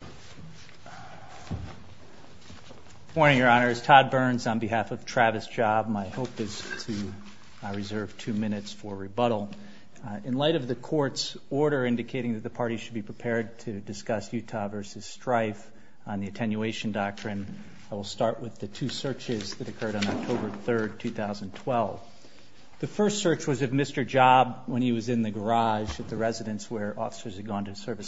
Good morning, your honors. Todd Burns on behalf of Travis Job. My hope is to reserve two minutes for rebuttal. In light of the court's order indicating that the party should be prepared to discuss Utah v. Strife on the attenuation doctrine, I will start with the two searches that occurred on October 3rd, 2012. The first search was of Mr. Job when he was in the garage with the residents where officers had gone to serve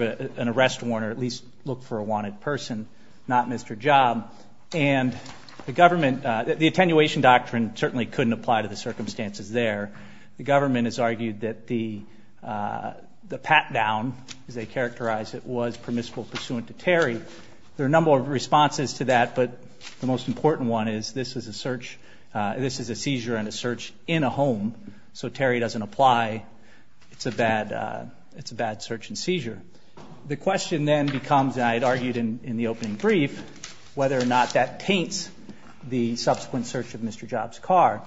an arrest warrant or at least look for a wanted person, not Mr. Job. The government, the attenuation doctrine certainly couldn't apply to the circumstances there. The government has argued that the pat down, as they characterized it, was permissible pursuant to Terry. There are a number of responses to that, but the most important one is this is a search, this is a seizure and a search in a home, so Terry doesn't apply. It's a bad search and seizure. The question then becomes, and I had argued in the opening brief, whether or not that paints the subsequent search of Mr. Job's car.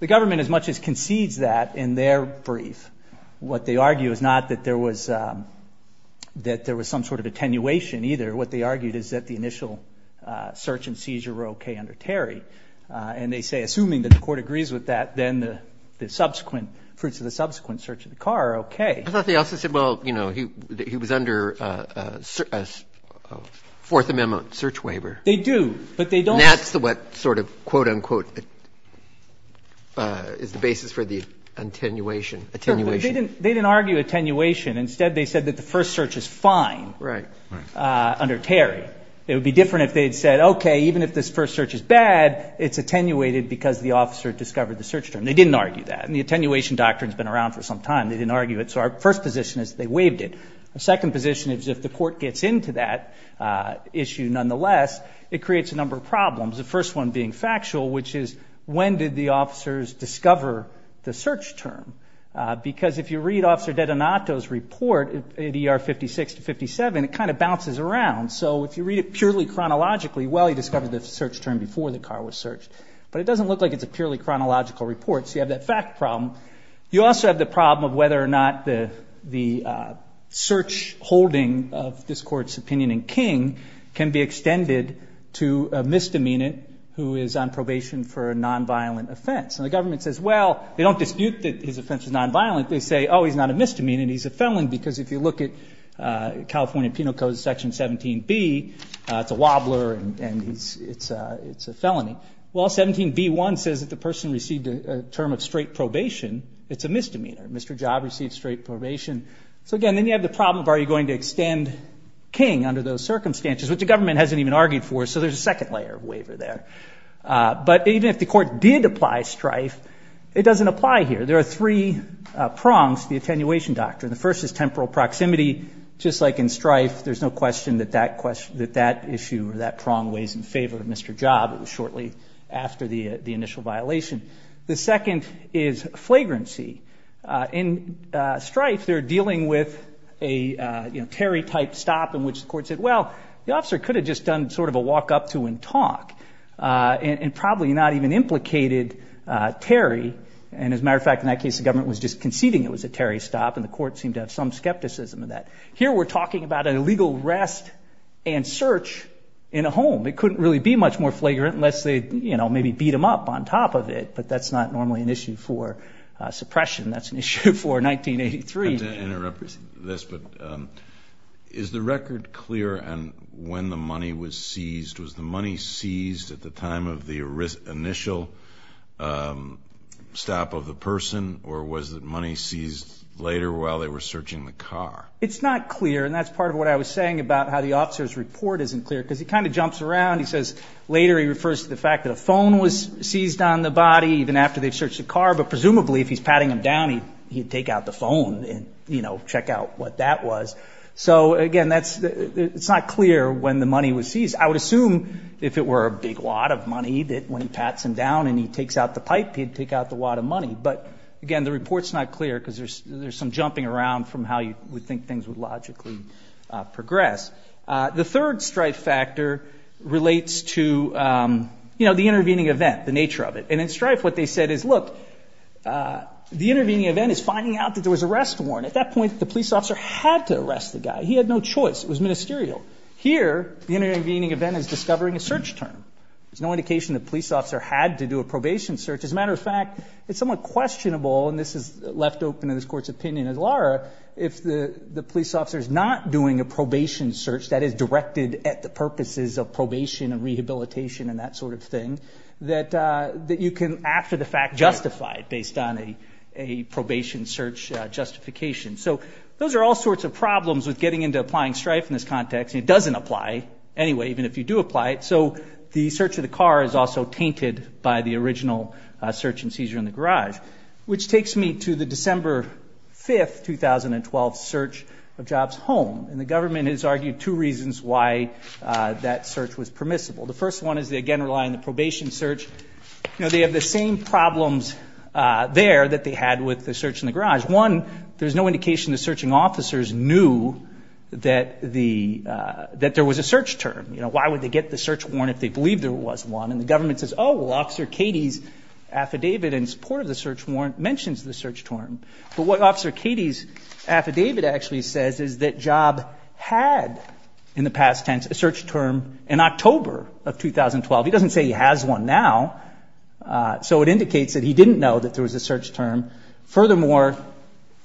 The government as much as concedes that in their brief, what they argue is not that there was some sort of attenuation either. What they argued is that the initial search and seizure were okay under Terry, and they say assuming that the court agrees with that, then the subsequent, fruits of the subsequent search of the car are okay. I thought they also said, well, you know, he was under a Fourth Amendment search waiver. They do, but they don't. That's what sort of quote unquote is the basis for the attenuation. They didn't argue attenuation. Instead, they said that the first search is fine under Terry. It would be different if they'd said, okay, even if this first search is bad, it's attenuated because the officer discovered the search term. They didn't argue that, and the attenuation doctrine's been around for some time. They didn't argue it, so our first position is they waived it. The second position is if the court gets into that issue nonetheless, it creates a number of problems, the first one being factual, which is when did the officers discover the search term? Because if you read Officer Detenato's report, ER 56 to 57, it kind of bounces around. So if you read it purely chronologically, well, he discovered the search term before the car was searched, but it doesn't look like it's a purely chronological report, so you have that fact problem. You also have the problem of whether or not the search holding of this court's opinion in King can be extended to a misdemeanant who is on probation for a nonviolent offense. And the government says, well, they don't dispute that his offense is nonviolent. They say, oh, he's not a misdemeanant. He's a felon because if you look at California Penal Code Section 17B, it's a wobbler, and it's a felon. Well, 17B1 says if the person received a term of straight probation, it's a misdemeanant. Mr. Job received straight probation. So again, then you have the problem of are you going to extend King under those circumstances, which the government hasn't even argued for, so there's a second layer of waiver there. But even if the court did apply strife, it doesn't apply here. There are three prongs to the attenuation doctrine. The first is temporal proximity, just like in strife, there's no question that that issue or that prong weighs in favor of Mr. Job shortly after the initial violation. The second is flagrancy. In strife, they're dealing with a Terry type stop in which the court said, well, the officer could have just done sort of a walk up to and talk and probably not even implicated Terry. And as a matter of fact, in that case, the government was just conceding it was a Terry stop, and the court seemed to have some rest and search in a home. It couldn't really be much more flagrant unless they maybe beat him up on top of it, but that's not normally an issue for suppression. That's an issue for 1983. I'm going to interrupt this, but is the record clear on when the money was seized? Was the money seized at the time of the initial stop of the person, or was the money seized later while they were searching the car? It's not clear, and that's part of what I was saying about how the officer's report isn't clear, because he kind of jumps around. He says later he refers to the fact that a phone was seized on the body even after they searched the car, but presumably if he's patting him down, he'd take out the phone and check out what that was. So again, it's not clear when the money was seized. I would assume if it were a big wad of money that when he pats him down and he takes out the pipe, he'd take out the wad of money. But again, the things would logically progress. The third Stryfe factor relates to the intervening event, the nature of it. In Stryfe, what they said is, look, the intervening event is finding out that there was an arrest warrant. At that point, the police officer had to arrest the guy. He had no choice. It was ministerial. Here, the intervening event is discovering a search term. There's no indication the police officer had to do a probation search. As a matter of fact, it's somewhat questionable and this is left open in this court's opinion as it are, if the police officer is not doing a probation search that is directed at the purposes of probation and rehabilitation and that sort of thing, that you can after the fact justify it based on a probation search justification. So those are all sorts of problems with getting into applying Stryfe in this context. It doesn't apply anyway, even if you do apply it. So the search of the car is also tainted by the search warrant, which takes me to the December 5th, 2012 search of Jobs' home. And the government has argued two reasons why that search was permissible. The first one is they again rely on the probation search. They have the same problems there that they had with the search in the garage. One, there's no indication the searching officers knew that there was a search term. Why would they get the search warrant if they believed there was one? And the government says, oh, well, Officer Katie's affidavit in support of the search warrant mentions the search term. But what Officer Katie's affidavit actually says is that Job had in the past tense a search term in October of 2012. He doesn't say he has one now. So it indicates that he didn't know that there was a search term. Furthermore,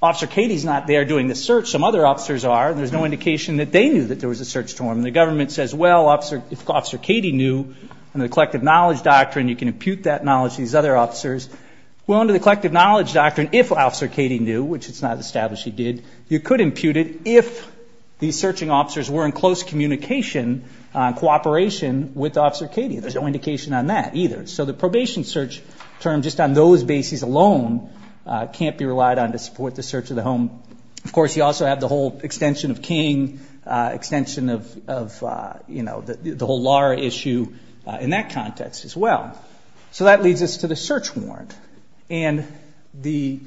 Officer Katie's not there doing the search. Some other officers are and there's no indication that they knew that there was a search term. And the government says, well, Officer Katie knew and the collective knowledge doctrine, you can impute that knowledge to these other officers. Well, under the collective knowledge doctrine, if Officer Katie knew, which it's not established he did, you could impute it if these searching officers were in close communication, cooperation with Officer Katie. There's no indication on that either. So the probation search term just on those bases alone can't be relied on to support the search of the home. Of course, you also have the whole extension of King, extension of, you know, the whole Laura issue in that context as well. So that leads us to the search warrant. And the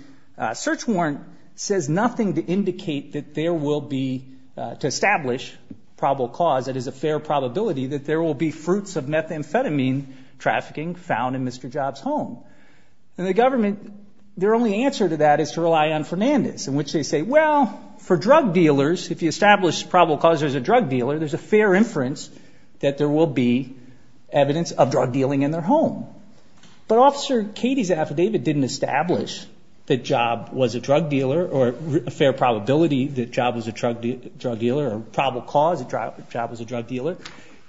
search warrant says nothing to indicate that there will be, to establish probable cause, that is a fair probability that there will be fruits of methamphetamine trafficking found in Mr. Job's home. And the government, their only answer to that is to rely on Fernandez in which they say, well, for drug dealers, if you establish probable cause there's a drug dealer, there's a fair inference that there will be evidence of drug dealing in their home. But Officer Katie's affidavit didn't establish that Job was a drug dealer or a fair probability that Job was a drug dealer or probable cause that Job was a drug dealer.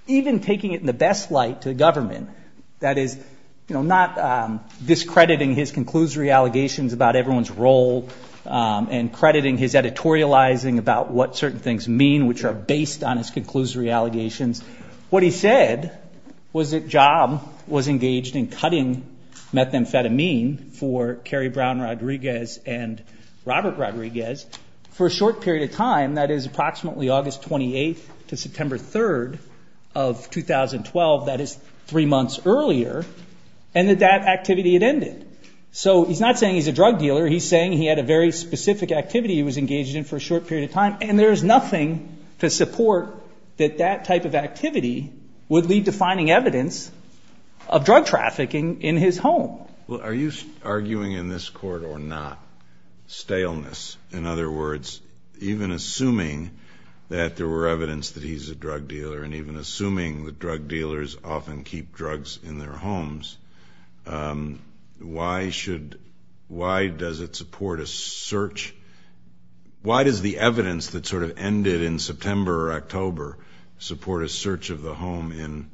Even taking it in the best light to the government, that is, you know, not discrediting his conclusory allegations about everyone's role and crediting his editorializing about what certain things mean which are based on his conclusory allegations. What he said was that Job was engaged in cutting methamphetamine for Kerry Brown Rodriguez and Robert Rodriguez for a short period of time, that is approximately August 28th to September 3rd of 2012, that is three months earlier, and that that activity had ended. So he's not saying he's a drug dealer, he's saying he had a very specific activity he was engaged in for a short period of time, and there's nothing to support that that type of activity would lead to finding evidence of drug trafficking in his home. Well, are you arguing in this court or not, staleness? In other words, even assuming that there were evidence that he's a drug dealer and even assuming that drug dealers often keep drugs in their homes, why should, why does it support a search, why does the evidence that sort of ended in September or October support a search of the home in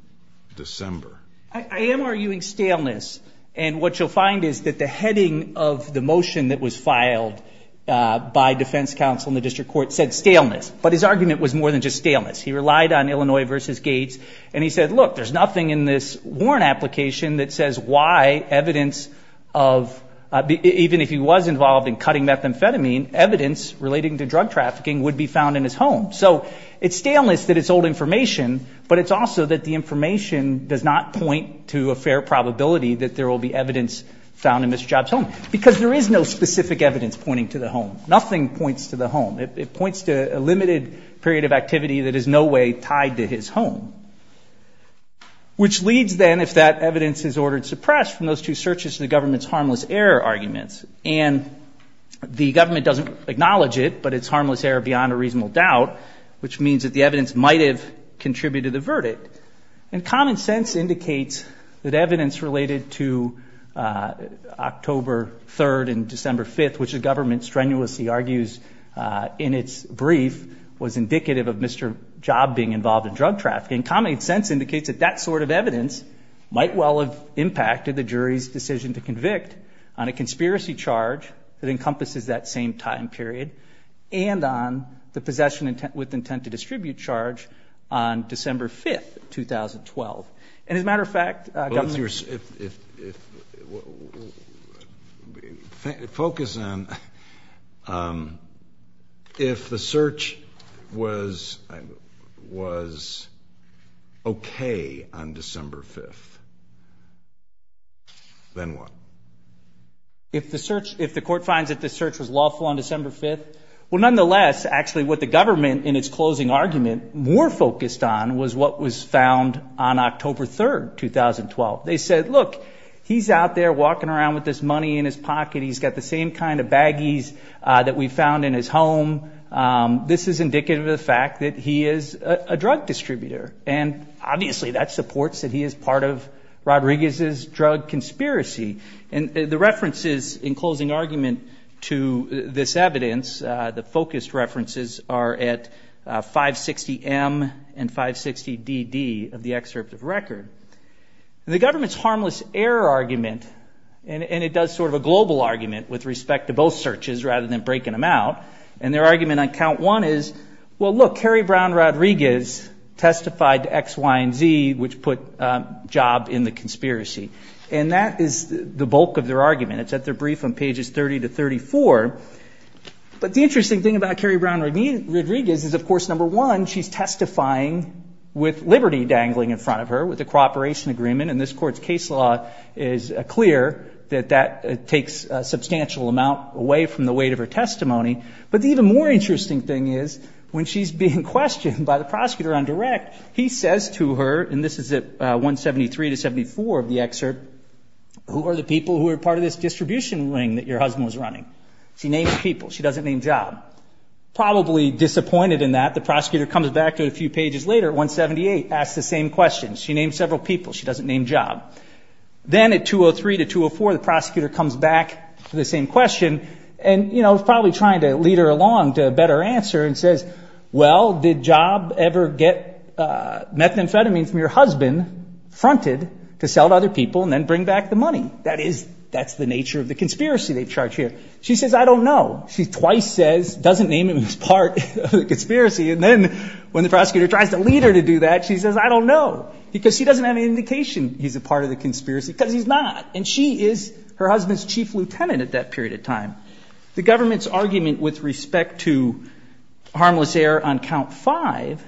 December? I am arguing staleness, and what you'll find is that the heading of the motion that was filed by defense counsel in the district court said staleness, but his argument was more than just staleness. He relied on Illinois versus Gates, and he said, look, there's nothing in this warrant application that says why evidence of, even if he was involved in cutting methamphetamine, evidence relating to drug trafficking would be found in his home. So it's staleness that it's old information, but it's also that the information does not point to a fair probability that there will be evidence found in Mr. Job's home, because there is no specific evidence pointing to the home. Nothing points to the home. It points to a limited period of activity that is in no way tied to his home, which leads then if that evidence is ordered suppressed from those two searches to the government's harmless error arguments, and the government doesn't acknowledge it, but it's harmless error beyond a reasonable doubt, which means that the evidence might have contributed to the verdict. And common sense indicates that evidence related to October 3rd and December 5th, which the brief was indicative of Mr. Job being involved in drug trafficking. Common sense indicates that that sort of evidence might well have impacted the jury's decision to convict on a conspiracy charge that encompasses that same time period, and on the possession with intent to distribute charge on December 5th, 2012. And as a matter of fact, government focused on if the search was okay on December 5th, then what? If the court finds that the search was lawful on December 5th, well, nonetheless, actually, what the government, in its closing argument, more focused on was what was found on October 3rd, 2012. They said, look, he's out there walking around with this money in his pocket. He's got the same kind of baggies that we found in his home. This is indicative of the fact that he is a drug distributor, and obviously that supports that he is part of Rodriguez's drug conspiracy. And the references in closing argument to this evidence, the focused references are at 560M and 560DD of the excerpt of record. And the government's harmless error argument, and it does sort of a global argument with respect to both searches rather than breaking them out, and their argument on count one is, well, look, Harry Brown Rodriguez testified to X, Y, and Z, which put Job in the conspiracy. And that is the bulk of their argument. It's at their brief on pages 30 to 34. But the interesting thing about Harry Brown Rodriguez is, of course, number one, she's testifying with liberty dangling in front of her, with the cooperation agreement, and this court's case law is clear that that takes a substantial amount away from the weight of her testimony. But the even more interesting thing is when she's being questioned by the prosecutor on direct, he says to her, and this is at 173 to 174 of the excerpt, who are the people who are part of this distribution ring that your husband was running? She names people. She doesn't name Job. Probably disappointed in that, the prosecutor comes back to it a few pages later at 178, asks the same question. She names several people. She doesn't name Job. Then at 203 to 204, the prosecutor comes back to the same question and, you know, is probably trying to lead her along to a better answer and says, well, did Job ever get methamphetamine from your husband fronted to sell to other people and then bring back the money? That's the nature of the conspiracy they've charged here. She says, I don't know. She twice says, doesn't name him as part of the conspiracy, and then when the prosecutor tries to lead her to do that, she says, I don't know, because she doesn't have any indication he's a part of the conspiracy, because he's not. And she is her husband's chief lieutenant at that period of time. The government's argument with respect to harmless error on count five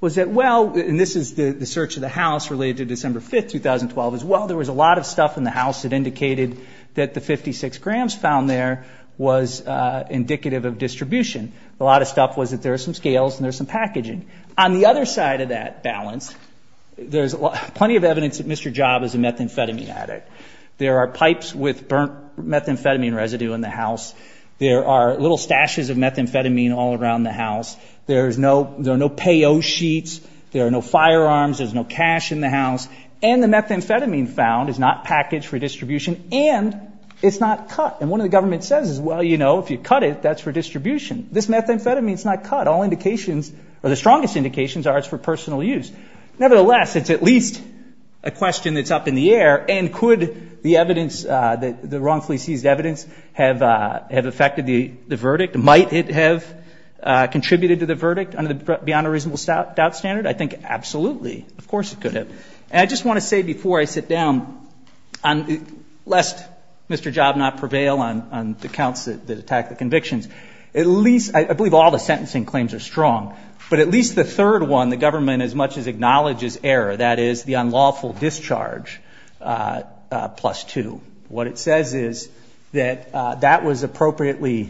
was that, well, and this is the search of the house related to December 5, 2012 as well, there was a lot of stuff in the house that indicated that the 56 grams found there was indicative of distribution. A lot of stuff was that there are some scales and there's some packaging. On the other side of that balance, there's plenty of evidence that Mr. Job is a methamphetamine addict. There are pipes with burnt methamphetamine residue in the house. There are little stashes of methamphetamine all around the house. There's no, there are no payo sheets. There are no firearms. There's no cash in the house. And the methamphetamine found is not packaged for distribution, and it's not cut. And one of the government says, well, you know, if you cut it, that's for distribution. This methamphetamine is not cut. All indications, or the strongest indications are it's for personal use. Nevertheless, it's at least a question that's up in the air, and could the evidence that the wrongfully seized evidence have affected the verdict? Might it have contributed to the verdict? On the beyond a reasonable doubt standard, I think absolutely. Of course it could have. And I just want to say before I sit down, lest Mr. Job not prevail on the counts that attack the convictions, at least, I believe all the sentencing claims are strong, but at least the third one, the government as much as acknowledges error, that is the unlawful discharge, plus two. What it says is that that was appropriately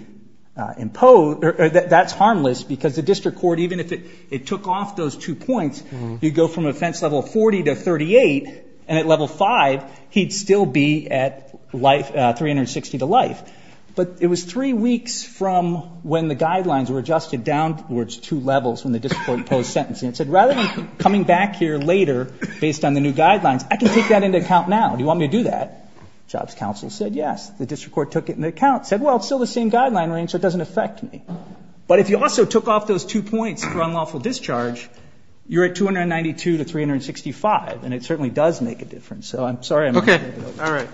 imposed, or that's the standard. Even if it took off those two points, he'd go from offense level 40 to 38, and at level 5, he'd still be at 360 to life. But it was three weeks from when the guidelines were adjusted downwards two levels when the district court imposed sentencing. It said rather than coming back here later based on the new guidelines, I can take that into account now. Do you want me to do that? Judge counsel said yes. The district court took it into account. Said, well, it's still the same guideline range, so it doesn't affect me. But if you also took off those two points for unlawful discharge, you're at 292 to 365, and it certainly does make a difference. So I'm sorry. Okay. All right.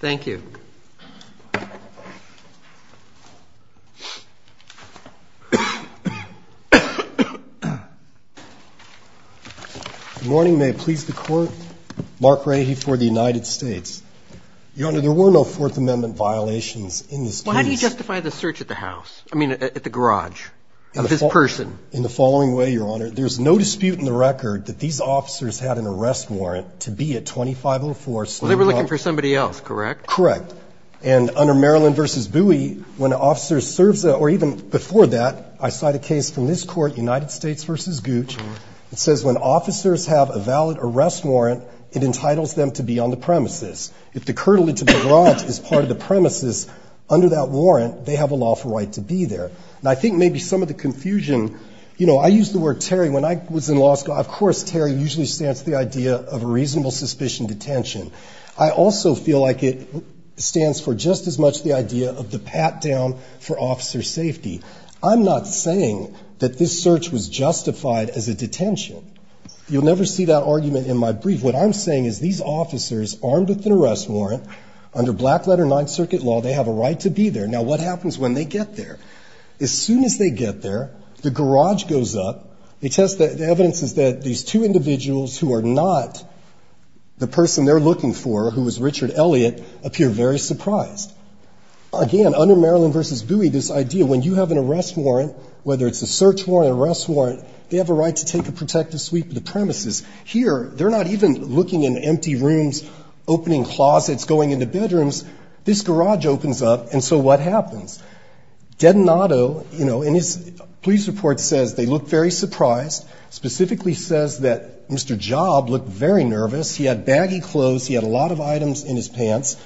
Thank you. Good morning. May it please the Court? Mark Rahy for the United States. Your Honor, there were no Fourth Amendment violations in this case. Well, how do you justify the search at the house? I mean, at the garage of this person? In the following way, Your Honor. There's no dispute in the record that these officers had an arrest warrant to be at 2504. They were looking for somebody else, correct? Correct. And under Maryland v. Bowie, when officers served the, or even before that, I cite a case from this court, United States v. Gooch, that says when officers have a valid arrest warrant, it entitles them to be on the premises. If the curtilage of the garage is part of the premises, under that warrant, they have a lawful right to be there. And I think maybe some of the confusion, you know, I use the word Terry when I was in law school. Of course, Terry usually stands for the idea of a reasonable suspicion detention. I also feel like it stands for just as much the idea of the pat-down for officer safety. I'm not saying that this search was justified as a detention. You'll never see that argument in my brief. What I'm saying is these officers, armed with an arrest warrant, under Black Letter 9th Circuit law, they have a right to be there. Now what happens when they get there? As soon as they get there, the garage goes up. The evidence is that these two individuals who are not the person they're looking for, who is Richard Elliott, appear very surprised. Again, under Maryland v. Bowie, this idea, when you have an arrest warrant, whether it's a search warrant or an arrest warrant, they have a right to take a protective sweep of the premises. Here, they're not even looking in empty rooms, opening closets, going into bedrooms. This garage opens up, and so what happens? Detonato, you know, in his police report says they look very surprised. Specifically says that Mr. Job looked very nervous. He had baggy clothes. He had a lot of items in his pants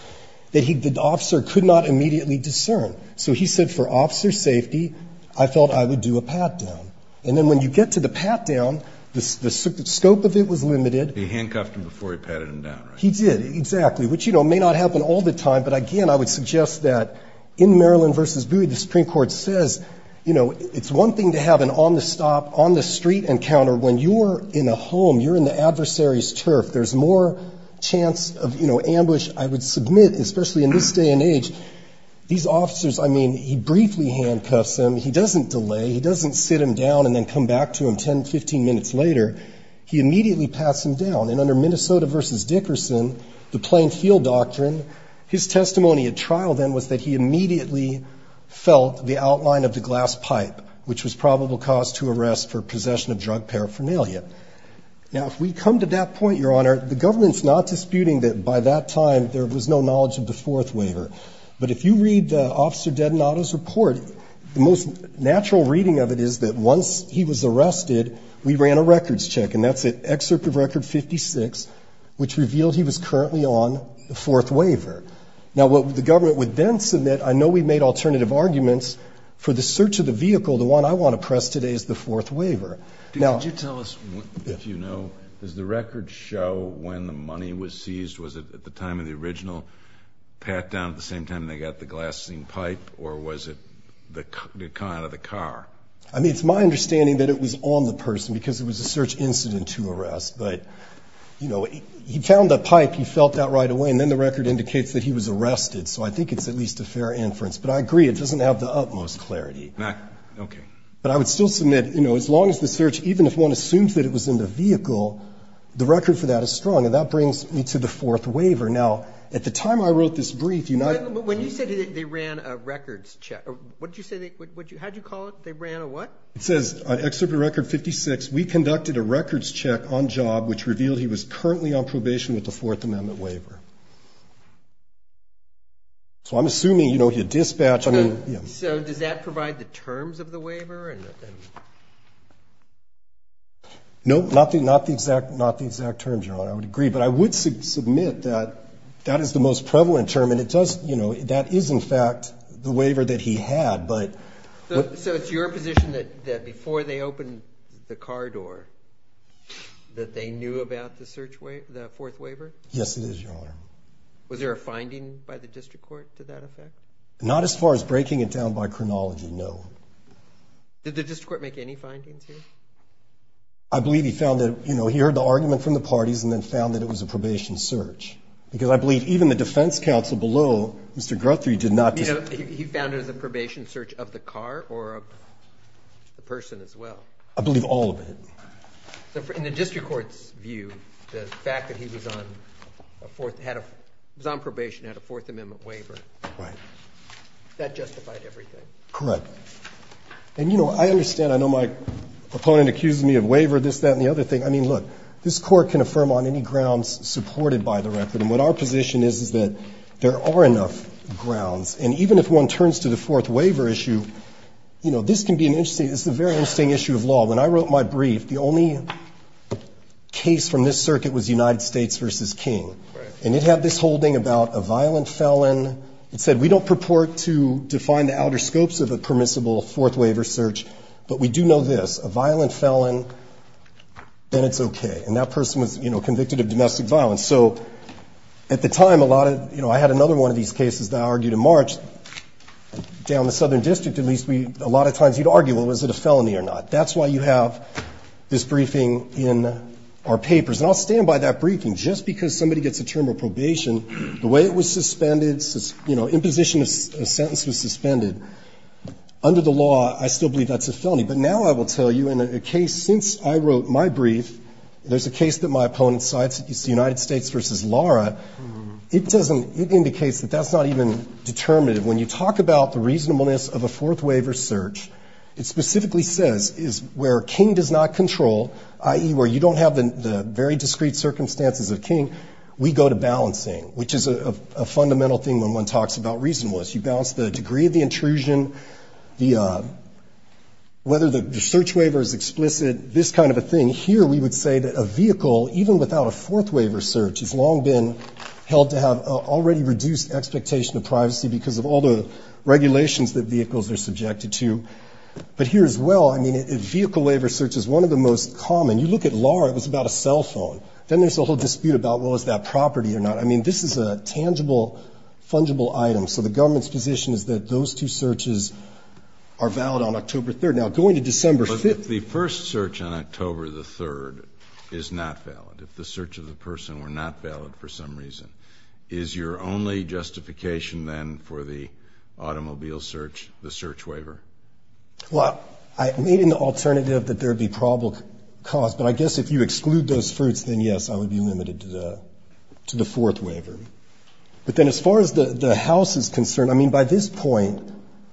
that the officer could not immediately discern. So he said, for officer safety, I thought I would do a pat-down. And then when you get to the pat-down, the scope of it was limited. He handcuffed him before he patted him down, right? He did, exactly, which may not happen all the time, but again, I would suggest that in Maryland v. Bowie, the Supreme Court says it's one thing to have an on-the-stop, on-the-street encounter. When you're in a home, you're in the adversary's turf. There's more chance of ambush, I would submit, especially in this day and age. These officers, I mean, he briefly handcuffs them. He doesn't delay. He doesn't sit him down and then come back to him 10, 15 minutes later. He immediately pats him down, and under Minnesota v. Dickerson, the Plain Heel Doctrine, his testimony at trial then was that he immediately felt the outline of the glass pipe, which was probable cause to arrest for possession of drug paraphernalia. Now, if we come to that point, Your Honor, the government's not disputing that by that time, but there was no knowledge of the fourth waiver. But if you read Officer Dedanato's report, the most natural reading of it is that once he was arrested, we ran a records check, and that's an excerpt of Record 56, which reveals he was currently on the fourth waiver. Now, what the government would then submit, I know we made alternative arguments for the search of the vehicle. The one I want to press today is the fourth waiver. Could you tell us what you know? Does the record show when the money was seized? Was it at the time of the original pat-down at the same time they got the glassine pipe, or was it the car? I mean, it's my understanding that it was on the person because it was a search incident to arrest. But, you know, he found the pipe, he felt that right away, and then the record indicates that he was arrested. So I think it's at least a fair inference. But I agree, it doesn't have the utmost clarity. But I would still submit, you know, as long as the search, even if one assumes that it was in the vehicle, the record for that is strong, and that brings me to the fourth waiver. Now, at the time I wrote this brief, you might… When you said they ran a records check, what did you say, how did you call it, they ran a what? It says on Excerpt of Record 56, we conducted a records check on job, which revealed he was currently on probation with the fourth amendment waiver. So I'm assuming, you know, if you dispatch, I mean… So did that provide the terms of the waiver or nothing? No, nothing, not the exact terms, Your Honor, I would agree. But I would submit that that is the most prevalent term, and it does, you know, that is in fact the waiver that he had, but… So it's your position that before they opened the car door, that they knew about the fourth waiver? Yes, it is, Your Honor. Was there a finding by the district court to that effect? Not as far as breaking it down by chronology, no. Did the district court make any findings here? I believe he found that, you know, he heard the argument from the parties and then found that it was a probation search. Because I believe even the defense counsel below, Mr. Grothrie, did not… You know, he found it as a probation search of the car or of the person as well. I believe all of it. In the district court's view, the fact that he was on probation, had a Fourth Amendment waiver, that justified everything? Correct. And, you know, I understand, I know my opponent accused me of waiver, this, that, and the other thing. I mean, look, this court can affirm on any grounds supported by the record. And what our position is is that there are enough grounds. And even if one turns to the fourth waiver issue, you know, this can be an interesting, this is a very interesting issue of law. When I wrote my brief, the only case from this circuit was United States v. King. And it had this holding about a violent felon. It said, we don't purport to define the outer scapes of a permissible fourth waiver search, but we do know this. A violent felon, then it's okay. And that person was, you know, convicted of domestic violence. So at the time, a lot of, you know, I had another one of these cases that I argued in March. Down in the Southern District, at least, a lot of times you'd argue, well, is it a felony or not? That's why you have this briefing in our papers. And I'll stand by that briefing. Just because somebody gets a term of probation, the way it was suspended, you know, imposition of a sentence was suspended. Under the law, I still believe that's a felony. But now I will tell you, in a case since I wrote my brief, there's a case that my opponent cited. It's the United States v. Lara. It doesn't, it indicates that that's not even determinative. When you talk about the reasonableness of a fourth waiver search, it specifically says where King does not control, i.e., where you don't have the very discrete circumstances of King, we go to balancing, which is a fundamental thing when one talks about reasonableness. You balance the degree of the intrusion, whether the search waiver is explicit, this kind of a thing. And here we would say that a vehicle, even without a fourth waiver search, has long been held to have already reduced expectation of privacy because of all the regulations that vehicles are subjected to. But here as well, I mean, a vehicle waiver search is one of the most common. You look at Lara, it was about a cell phone. Then there's the whole dispute about, well, is that property or not? I mean, this is a tangible, fungible item. So the government's position is that those two searches are valid on October 3rd. But if the first search on October 3rd is not valid, if the search of the person were not valid for some reason, is your only justification then for the automobile search the search waiver? Well, I made an alternative that there would be probable cause. But I guess if you exclude those fruits, then yes, I would be limited to the fourth waiver. But then as far as the House is concerned, I mean, by this point,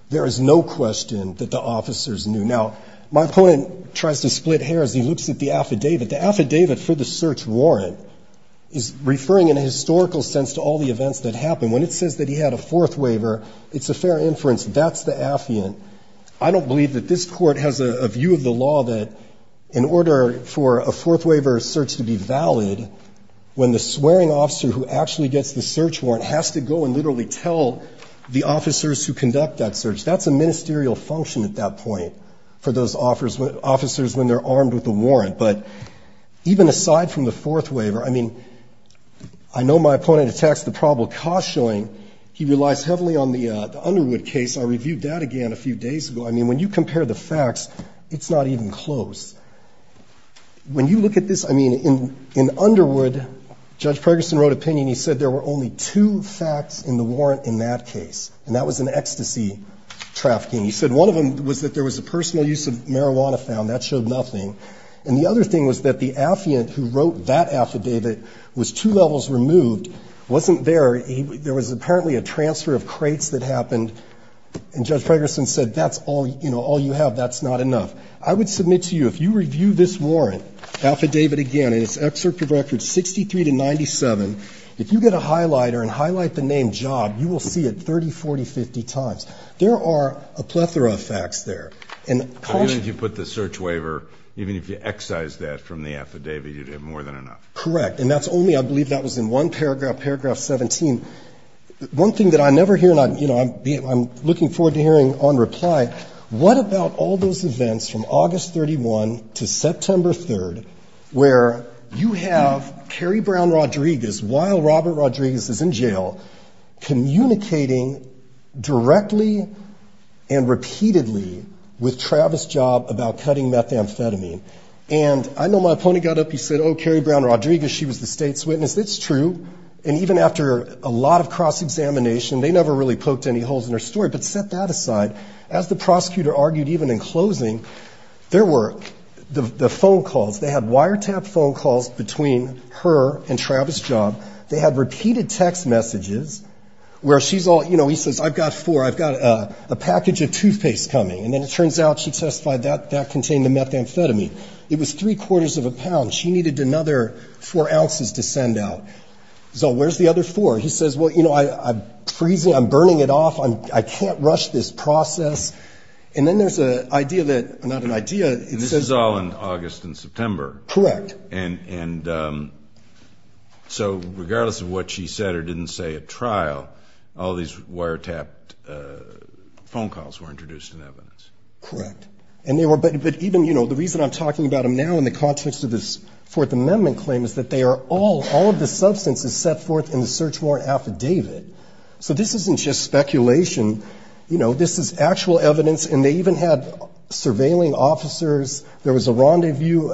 there is no question that the officers knew. Now, my opponent tries to split hair as he looks at the affidavit. The affidavit for the search warrant is referring in a historical sense to all the events that happened. When it says that he had a fourth waiver, it's a fair inference that that's the affiant. I don't believe that this court has a view of the law that in order for a fourth waiver search to be valid, when the swearing officer who actually gets the search warrant has to go and literally tell the officers who conduct that search, that's a ministerial function at that point for those officers when they're armed with a warrant. But even aside from the fourth waiver, I mean, I know my opponent attacks the probable cause showing. He relies heavily on the Underwood case. I reviewed that again a few days ago. I mean, when you compare the facts, it's not even close. When you look at this, I mean, in Underwood, Judge Ferguson wrote an opinion. He said there were only two facts in the warrant in that case, and that was an ecstasy trafficking. He said one of them was that there was a personal use of marijuana found. That showed nothing. And the other thing was that the affiant who wrote that affidavit was two levels removed, wasn't there. There was apparently a transfer of crates that happened, and Judge Ferguson said that's all, you know, all you have. That's not enough. I would submit to you, if you review this warrant, affidavit again, and it's excerpt of records 63 to 97, if you get a highlighter and highlight the name Job, you will see it 30, 40, 50 times. There are a plethora of facts there. And how many of you put the search waiver, even if you excise that from the affidavit, you did more than enough? Correct. And that's only, I believe that was in one paragraph, paragraph 17. One thing that I never hear, and I'm looking forward to hearing on reply, what about all those events from August 31 to September 3 where you have Carrie Brown Rodriguez, while Robert Rodriguez was in jail, communicating directly and repeatedly with Travis Job about cutting methamphetamine. And I know my opponent got up, he said, oh, Carrie Brown Rodriguez, she was the state's witness. It's true. And even after a lot of cross-examination, they never really poked any holes in her story. But set that aside, as the prosecutor argued even in closing, there were the phone calls. They had wiretap phone calls between her and Travis Job. They had repeated text messages where she's all, you know, he says, I've got four, I've got a package of toothpaste coming. And then it turns out she testified that that contained the methamphetamine. It was three-quarters of a pound. She needed another four ounces to send out. So where's the other four? And he says, well, you know, I'm freezing, I'm burning it off, I can't rush this process. And then there's an idea that says. This is all in August and September. Correct. And so regardless of what she said or didn't say at trial, all these wiretapped phone calls were introduced in evidence. Correct. But even, you know, the reason I'm talking about them now in the context of this Fourth Amendment claim is that they are all, all of the substances set forth in the search warrant affidavit. So this isn't just speculation. You know, this is actual evidence. And they even had surveilling officers. There was a rendezvous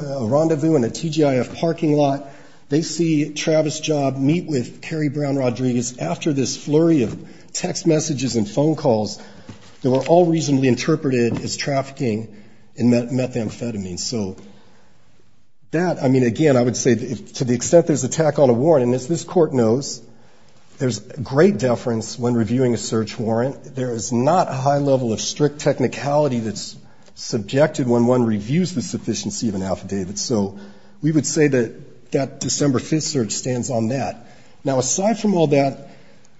in a TGIF parking lot. They see Travis Job meet with Carrie Brown Rodriguez after this flurry of text messages and phone calls. They were all reasonably interpreted as trafficking in methamphetamine. So that, I mean, again, I would say to the extent there's attack on a warrant, and as this court knows, there's great deference when reviewing a search warrant. There is not a high level of strict technicality that's subjected when one reviews the sufficiency of an affidavit. So we would say that that December 5th search stands on that. Now, aside from all that,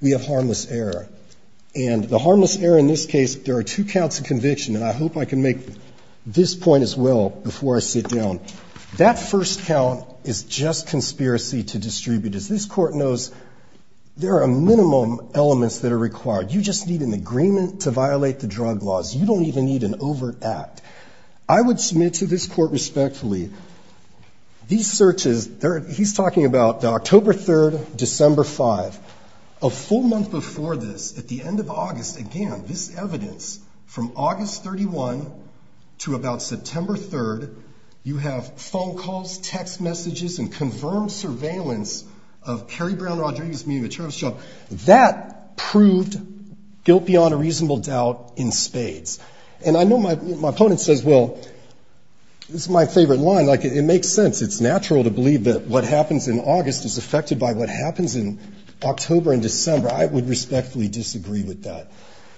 we have harmless error. And the harmless error in this case, there are two counts of conviction, and I hope I can make this point as well before I sit down. That first count is just conspiracy to distribute. As this court knows, there are minimum elements that are required. You just need an agreement to violate the drug laws. You don't even need an overt act. I would submit to this court respectfully, these searches, he's talking about the October 3rd, December 5th. A full month before this, at the end of August, again, this evidence, from August 31 to about September 3rd, you have phone calls, text messages, and confirmed surveillance of Kerry Brown Rodriguez, meaning the church. So that proved guilt beyond a reasonable doubt in spades. And I know my opponent says, well, this is my favorite line. It makes sense. It's natural to believe that what happens in August is affected by what happens in October and December. I would respectfully disagree with that.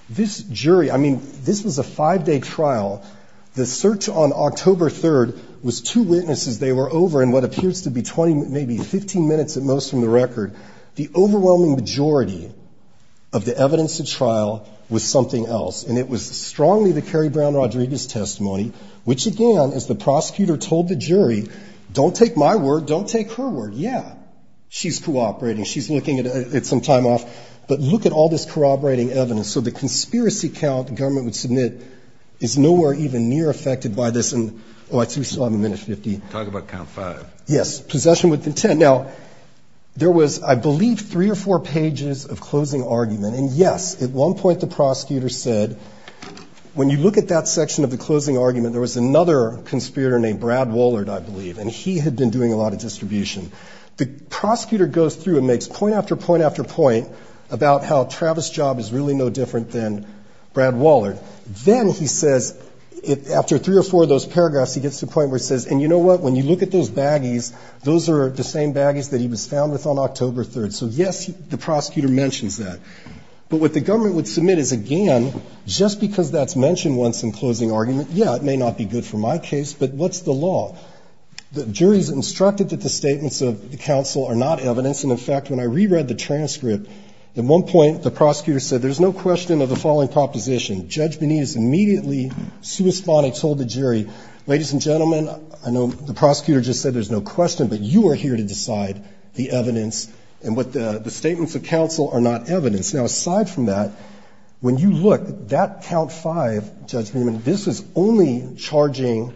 This jury, I mean, this was a five-day trial. The search on October 3rd was two witnesses. They were over in what appears to be 20, maybe 15 minutes at most from the record. The overwhelming majority of the evidence at trial was something else, and it was strongly the Kerry Brown Rodriguez testimony, which, again, as the prosecutor told the jury, don't take my word, don't take her word. Yeah, she's cooperating. She's looking at some time off. But look at all this corroborating evidence. So the conspiracy count the government would submit is nowhere even near affected by this. Oh, I threw some on the minute 50. Talk about count five. Yes, possession with intent. Now, there was, I believe, three or four pages of closing argument. And, yes, at one point the prosecutor said, when you look at that section of the closing argument, there was another conspirator named Brad Wollard, I believe, and he had been doing a lot of distribution. The prosecutor goes through and makes point after point after point about how Travis' job is really no different than Brad Wollard. Then he says, after three or four of those paragraphs, he gets to the point where he says, and you know what, when you look at those baggies, those are the same baggies that he was found with on October 3rd. So, yes, the prosecutor mentions that. But what the government would submit is, again, just because that's mentioned once in closing argument, yeah, it may not be good for my case, but what's the law? The jury's instructed that the statements of the counsel are not evidence. And, in fact, when I reread the transcript, at one point the prosecutor said, there's no question of the following proposition. Judge Benitez immediately, suespano, told the jury, ladies and gentlemen, I know the prosecutor just said there's no question, but you are here to decide the evidence and what the statements of counsel are not evidence. Now, aside from that, when you look, that count five, Judge Benjamin, this is only charging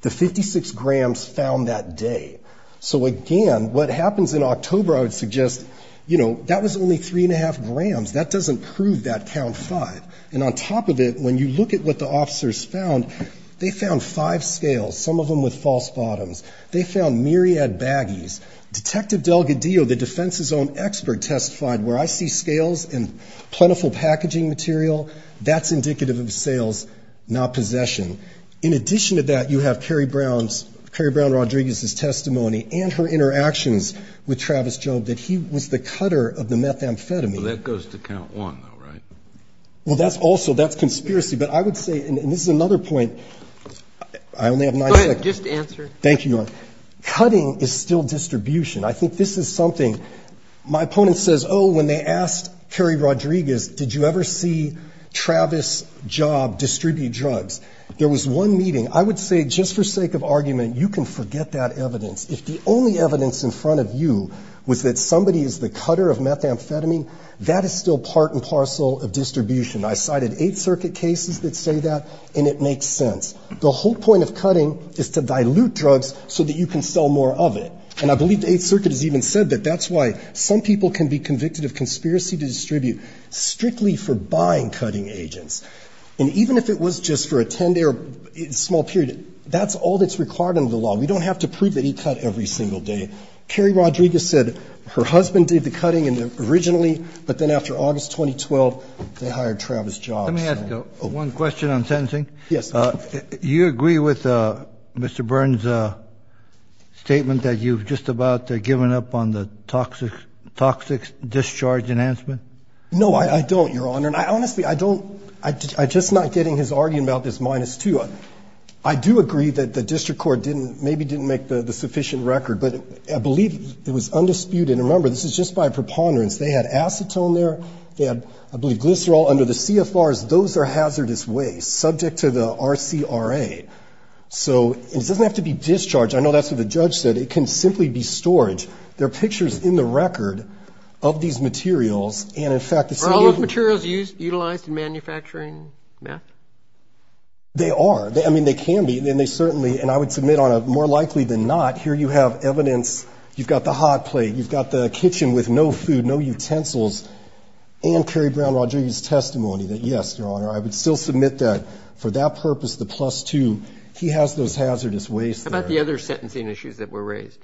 the 56 grams found that day. So, again, what happens in October, I would suggest, you know, that was only three and a half grams. That doesn't prove that count five. And on top of it, when you look at what the officers found, they found five scales, some of them with false bottoms. They found myriad baggies. Detective Delgadillo, the defense's own expert, testified, where I see scales and plentiful packaging material, that's indicative of sales, not possession. In addition to that, you have Kerry Brown's, Kerry Brown Rodriguez's testimony and her interactions with Travis Jones, that he was the cutter of the methamphetamine. Well, that goes to count one, though, right? Well, that's also, that's conspiracy. But I would say, and this is another point, I only have nine minutes. Go ahead, just answer. Thank you. Cutting is still distribution. I think this is something. My opponent says, oh, when they asked Kerry Rodriguez, did you ever see Travis' job distribute drugs? There was one meeting. I would say, just for sake of argument, you can forget that evidence. If the only evidence in front of you was that somebody is the cutter of methamphetamine, that is still part and parcel of distribution. I cited Eighth Circuit cases that say that, and it makes sense. The whole point of cutting is to dilute drugs so that you can sell more of it. And I believe the Eighth Circuit has even said that that's why some people can be convicted of conspiracy to distribute strictly for buying cutting agents. And even if it was just for a 10-day or small period, that's all that's required under the law. We don't have to prove that he cut every single day. Kerry Rodriguez said her husband did the cutting originally, but then after August 2012, they hired Travis' job. Let me ask one question on sentencing. Yes. Do you agree with Mr. Burns' statement that you've just about given up on the toxic discharge enhancement? No, I don't, Your Honor. And honestly, I don't. I'm just not getting his argument about this minus two. I do agree that the district court maybe didn't make the sufficient record, but I believe it was undisputed. And remember, this is just by preponderance. They had acetone there. They had, I believe, glycerol. Under the CFRs, those are hazardous waste subject to the RCRA. So it doesn't have to be discharged. I know that's what the judge said. It can simply be storage. There are pictures in the record of these materials. And, in fact, if you use them… Are all those materials utilized in manufacturing meth? They are. I mean, they can be. And they certainly, and I would submit, Your Honor, more likely than not, here you have evidence. You've got the hot plate. You've got the kitchen with no food, no utensils. And Kerry Brown-Rodriguez's testimony that, yes, Your Honor, I would still submit that for that purpose, the plus two, he has those hazardous waste. What about the other sentencing issues that were raised?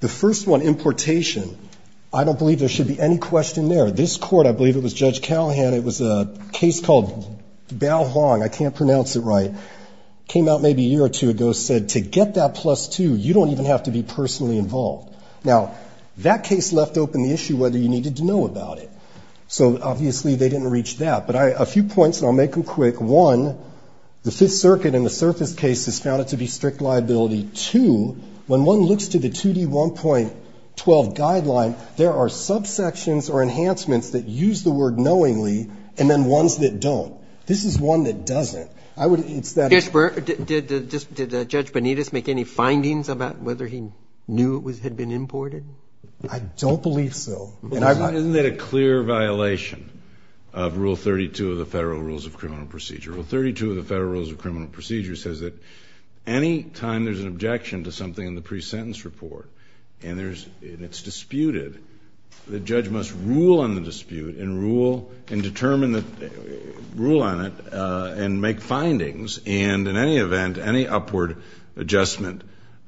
The first one, importation. I don't believe there should be any question there. This court, I believe it was Judge Callahan. It was a case called Bao Huang. I can't pronounce it right. It came out maybe a year or two ago. It said to get that plus two, you don't even have to be personally involved. Now, that case left open the issue whether you needed to know about it. So, obviously, they didn't reach that. But a few points, and I'll make them quick. One, the circuit in the surface case is found to be strict liability. When one looks to the 2D1.12 guideline, there are subsections or enhancements that use the word knowingly and then ones that don't. This is one that doesn't. Did Judge Benitez make any findings about whether he knew it had been imported? I don't believe so. Isn't that a clear violation of Rule 32 of the Federal Rules of Criminal Procedure? Rule 32 of the Federal Rules of Criminal Procedure says that any time there's an objection to something in the pre-sentence report and it's disputed, the judge must rule on the dispute and rule on it and make findings. And in any event, any upward adjustment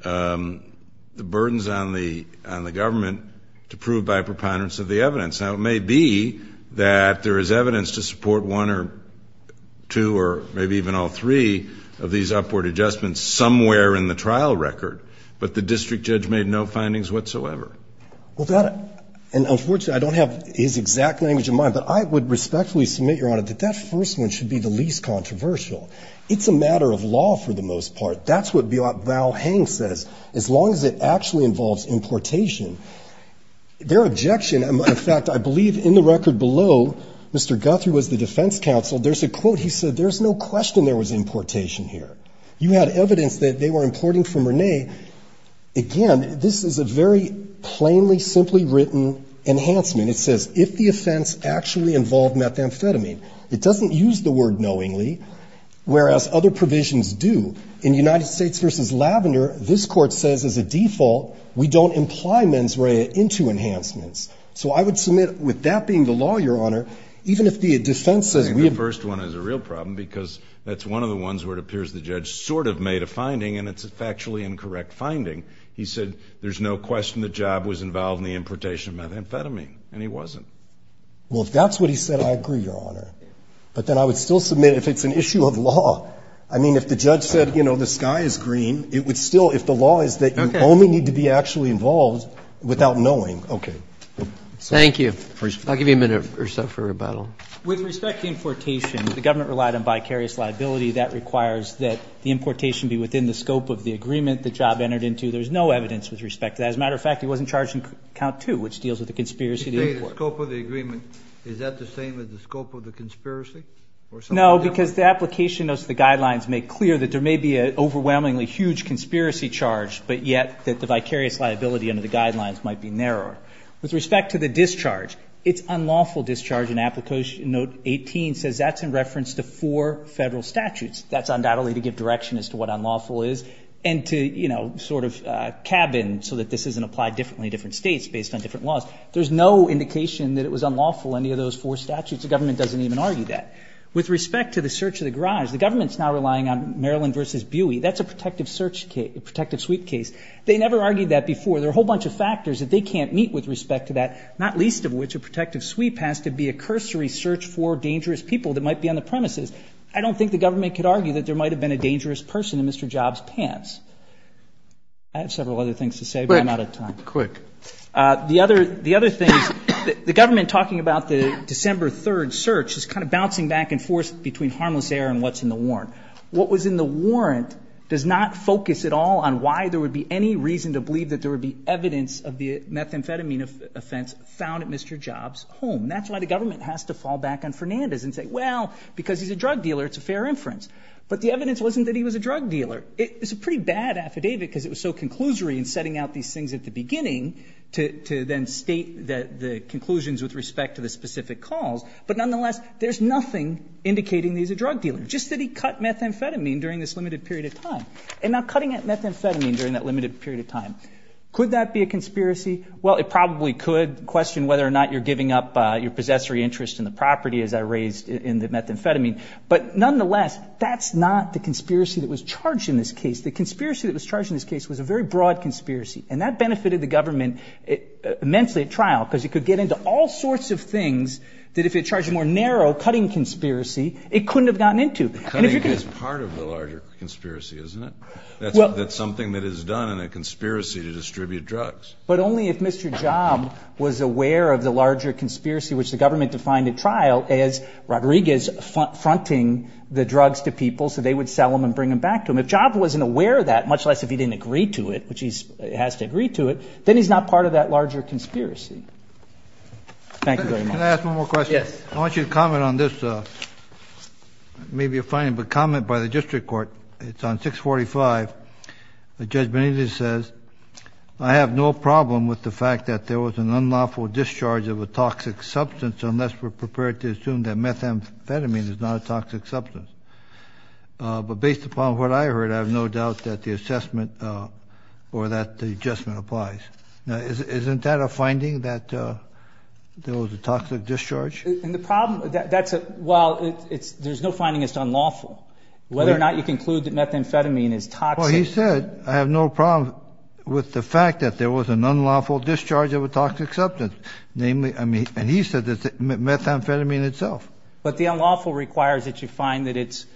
burdens on the government to prove by preponderance of the evidence. Now, it may be that there is evidence to support one or two or maybe even all three of these upward adjustments somewhere in the trial record. But the district judge made no findings whatsoever. Unfortunately, I don't have his exact language in mind, but I would respectfully submit, Your Honor, that that first one should be the least controversial. It's a matter of law for the most part. That's what Val Haines says. As long as it actually involves importation, their objection, in fact, I believe in the record below, Mr. Guthrie was the defense counsel. There's a quote he said, there's no question there was importation here. You had evidence that they were importing from Rene. Again, this is a very plainly, simply written enhancement. It says, if the offense actually involved methamphetamine. It doesn't use the word knowingly, whereas other provisions do. In United States v. Lavender, this court says, as a default, we don't imply mens rea into enhancements. So I would submit, with that being the law, Your Honor, even if the defense says we have... I think the first one is a real problem because that's one of the ones where it appears the judge sort of made a finding and it's a factually incorrect finding. He said, there's no question the job was involved in the importation of methamphetamine, and he wasn't. Well, if that's what he said, I agree, Your Honor. But then I would still submit, if it's an issue of law. I mean, if the judge said, you know, the sky is green, it would still... If the law is that you only need to be actually involved without knowing. Okay. Thank you. I'll give you a minute or so for rebuttal. With respect to importation, the government relied on vicarious liability. That requires that the importation be within the scope of the agreement the job entered into. There's no evidence with respect to that. As a matter of fact, it wasn't charged in count two, which deals with the conspiracy to import. You say the scope of the agreement. Is that the same as the scope of the conspiracy? No, because the application of the guidelines made clear that there may be an overwhelmingly huge conspiracy charge, but yet that the vicarious liability under the guidelines might be narrowed. With respect to the discharge, it's unlawful discharge in application note 18 says that's in reference to four federal statutes. That's undoubtedly to give direction as to what unlawful is, and to, you know, sort of cabin so that this isn't applied differently in different states based on different laws. There's no indication that it was unlawful, any of those four statutes. The government doesn't even argue that. With respect to the search of the garage, the government's now relying on Maryland versus Buie. That's a protective search case, a protective sweep case. They never argued that before. There are a whole bunch of factors that they can't meet with respect to that, not least of which a protective sweep has to be a cursory search for dangerous people that might be on the premises. I don't think the government could argue that there might have been a dangerous person in Mr. Jobs' pants. I have several other things to say, but I'm out of time. Quick. The other thing, the government talking about the December 3rd search is kind of bouncing back and forth between harmless error and what's in the warrant. What was in the warrant does not focus at all on why there would be any reason to believe that there would be evidence of the methamphetamine offense found at Mr. Jobs' home. That's why the government has to fall back on Fernandez and say, well, because he's a drug dealer, it's a fair inference. But the evidence wasn't that he was a drug dealer. It's a pretty bad affidavit because it was so conclusory in setting out these things at the beginning to then state the conclusions with respect to the specific calls. But nonetheless, there's nothing indicating he's a drug dealer. Just that he cut methamphetamine during this limited period of time. And not cutting methamphetamine during that limited period of time. Could that be a conspiracy? Well, it probably could question whether or not you're giving up your possessory interest in the property as I raised in the methamphetamine. But nonetheless, that's not the conspiracy that was charged in this case. The conspiracy that was charged in this case was a very broad conspiracy. And that benefited the government immensely at trial because it could get into all sorts of things that if it charged more narrow, cutting conspiracy, it couldn't have gotten into. Cutting is part of the larger conspiracy, isn't it? That's something that is done in a conspiracy to distribute drugs. But only if Mr. Job was aware of the larger conspiracy, which the government defined at trial as Rodriguez fronting the drugs to people so they would sell them and bring them back to him. If Job wasn't aware of that, much less if he didn't agree to it, which he has to agree to it, then he's not part of that larger conspiracy. Thank you very much. Can I ask one more question? Yes. I want you to comment on this. It may be a fine comment by the district court. It's on 645. Judge Benitez says, I have no problem with the fact that there was an unlawful discharge of a toxic substance unless we're prepared to assume that methamphetamine is not a toxic substance. But based upon what I heard, I have no doubt that the assessment or that the adjustment applies. Now, isn't that a finding that there was a toxic discharge? Well, there's no finding that's unlawful. Whether or not you conclude that methamphetamine is toxic. Well, he said, I have no problem with the fact that there was an unlawful discharge of a toxic substance. And he said that methamphetamine itself. But the unlawful requires that you find that it's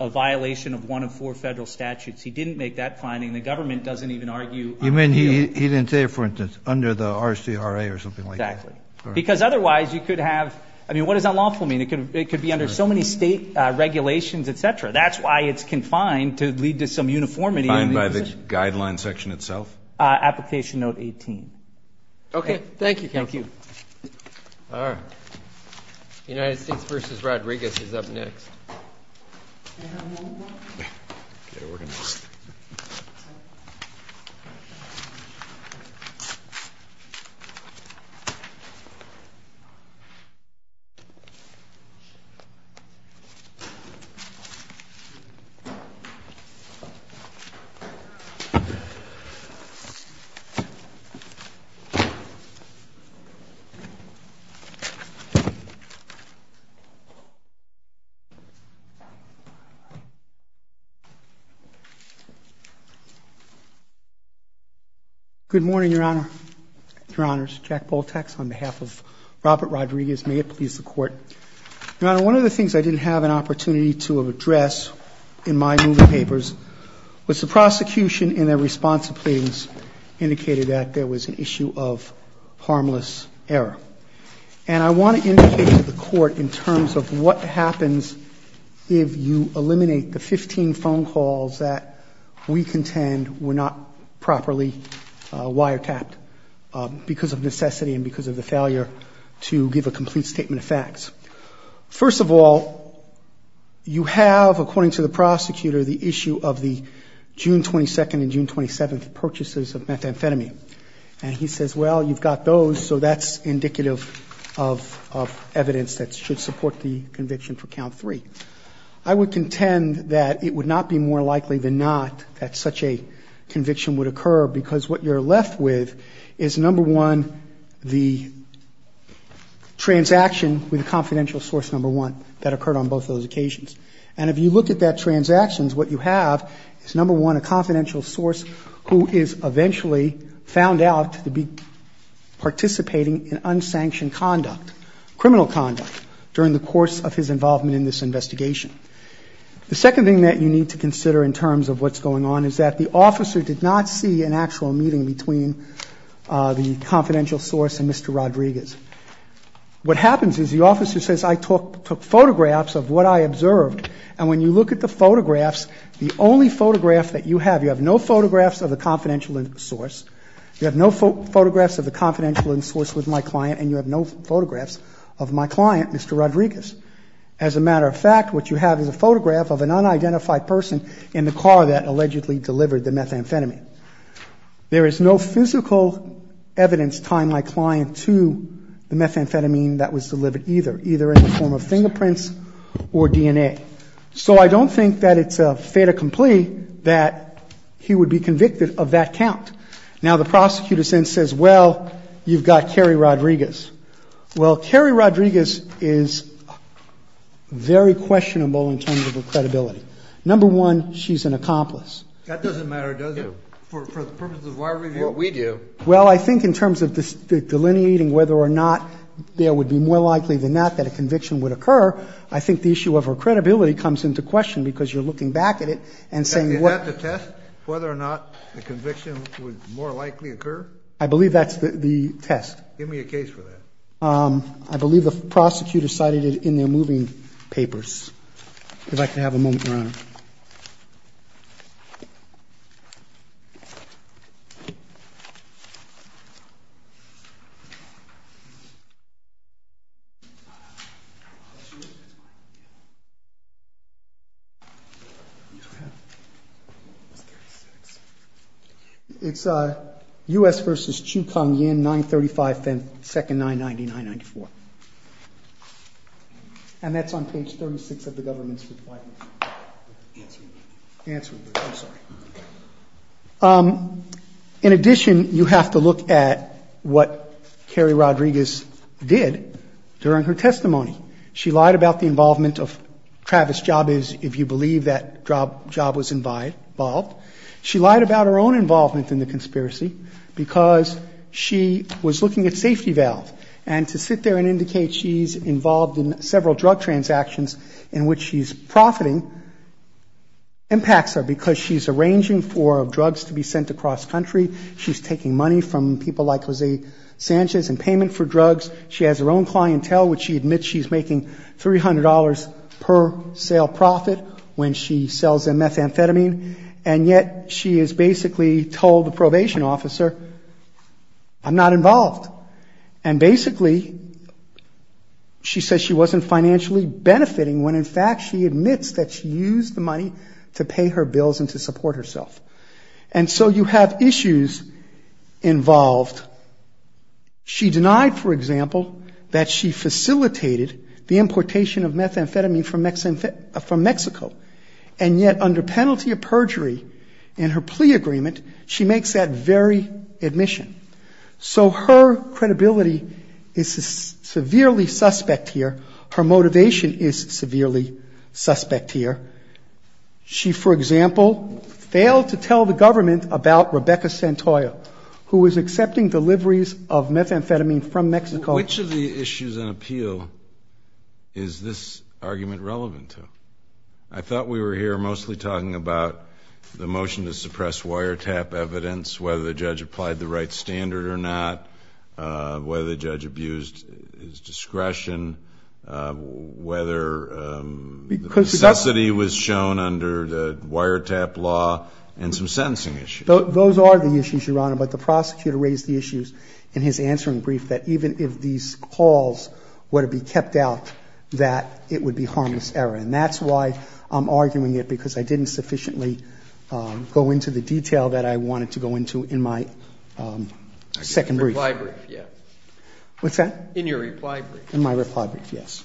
a violation of one of four federal statutes. He didn't make that finding. The government doesn't even argue. He didn't say it, for instance, under the RCRA or something like that. Because otherwise you could have, I mean, what does unlawful mean? It could be under so many state regulations, et cetera. That's why it's confined to lead to some uniformity. Confined by this guideline section itself? Application note 18. Okay. Thank you. Thank you. All right. I think Bruce Rodriguez is up next. Good morning, Your Honor. Your Honor, it's Jack Baltax on behalf of Robert Rodriguez. May it please the Court. Your Honor, one of the things I didn't have an opportunity to address in my moving papers was the prosecution in their response to pleadings indicated that there was an issue of harmless error. And I want to indicate to the Court in terms of what happens if you eliminate the 15 phone calls that we contend were not properly wiretapped because of necessity and because of the failure to give a complete statement of facts. First of all, you have, according to the prosecutor, the issue of the June 22nd and June 27th purchases of methamphetamine. And he says, well, you've got those, so that's indicative of evidence that should support the conviction for count three. I would contend that it would not be more likely than not that such a conviction would occur because what you're left with is, number one, the transaction with a confidential source, number one, that occurred on both those occasions. And if you look at that transaction, what you have is, number one, a confidential source who is eventually found out to be participating in unsanctioned conduct, criminal conduct, during the course of his involvement in this investigation. The second thing that you need to consider in terms of what's going on is that the officer did not see an actual meeting between the confidential source and Mr. Rodriguez. What happens is the officer says, I took photographs of what I observed, and when you look at the photographs, the only photograph that you have, you have no photographs of the confidential source, You have no photographs of the confidential source with my client, and you have no photographs of my client, Mr. Rodriguez. As a matter of fact, what you have is a photograph of an unidentified person in the car that allegedly delivered the methamphetamine. There is no physical evidence tying my client to the methamphetamine that was delivered either, either in the form of fingerprints or DNA. So I don't think that it's a fait accompli that he would be convicted of that count. Now, the prosecutor then says, well, you've got Kerry Rodriguez. Well, Kerry Rodriguez is very questionable in terms of her credibility. Number one, she's an accomplice. That doesn't matter, does it, for the purposes of why we do what we do? Well, I think in terms of delineating whether or not there would be more likely than not that a conviction would occur, I think the issue of her credibility comes into question because you're looking back at it and saying, Is that the test, whether or not the conviction would more likely occur? I believe that's the test. Give me a case for that. I believe the prosecutor cited it in their moving papers. If I could have a moment, Your Honor. It's U.S. v. Chu Tong Yin, 935, 2nd 999-94. And that's on page 36 of the Government Supply Act. In addition, you have to look at what Kerry Rodriguez did during her testimony. She lied about the involvement of Travis Jabez, if you believe that Jabez was involved. She lied about her own involvement in the conspiracy because she was looking at safety valves and to sit there and indicate she's involved in several drug transactions in which she's profiting impacts her because she's arranging for drugs to be sent to cross-country. She's taking money from people like Lizzie Sanchez in payment for drugs. She has her own clientele, which she admits she's making $300 per sale profit when she sells them methamphetamine. And yet, she is basically told the probation officer, I'm not involved. And basically, she says she wasn't financially benefiting when, in fact, she admits that she used the money to pay her bills and to support herself. And so, you have issues involved. She denied, for example, that she facilitated the importation of methamphetamine from Mexico. And yet, under penalty of perjury in her plea agreement, she makes that very admission. So, her credibility is severely suspect here. Her motivation is severely suspect here. She, for example, failed to tell the government about Rebecca Santoyo, who was accepting deliveries of methamphetamine from Mexico. Which of the issues in appeal is this argument relevant to? I thought we were here mostly talking about the motion to suppress wiretap evidence, whether the judge applied the right standard or not, whether the judge abused his discretion, whether necessity was shown under the wiretap law, and some sentencing issues. Those are the issues, Your Honor, but the prosecutor raised the issues in his answering brief that even if these calls were to be kept out, that it would be harmless error. And that's why I'm arguing it, because I didn't sufficiently go into the detail that I wanted to go into in my second brief. In your reply brief, yes. What's that? In your reply brief. In my reply brief, yes.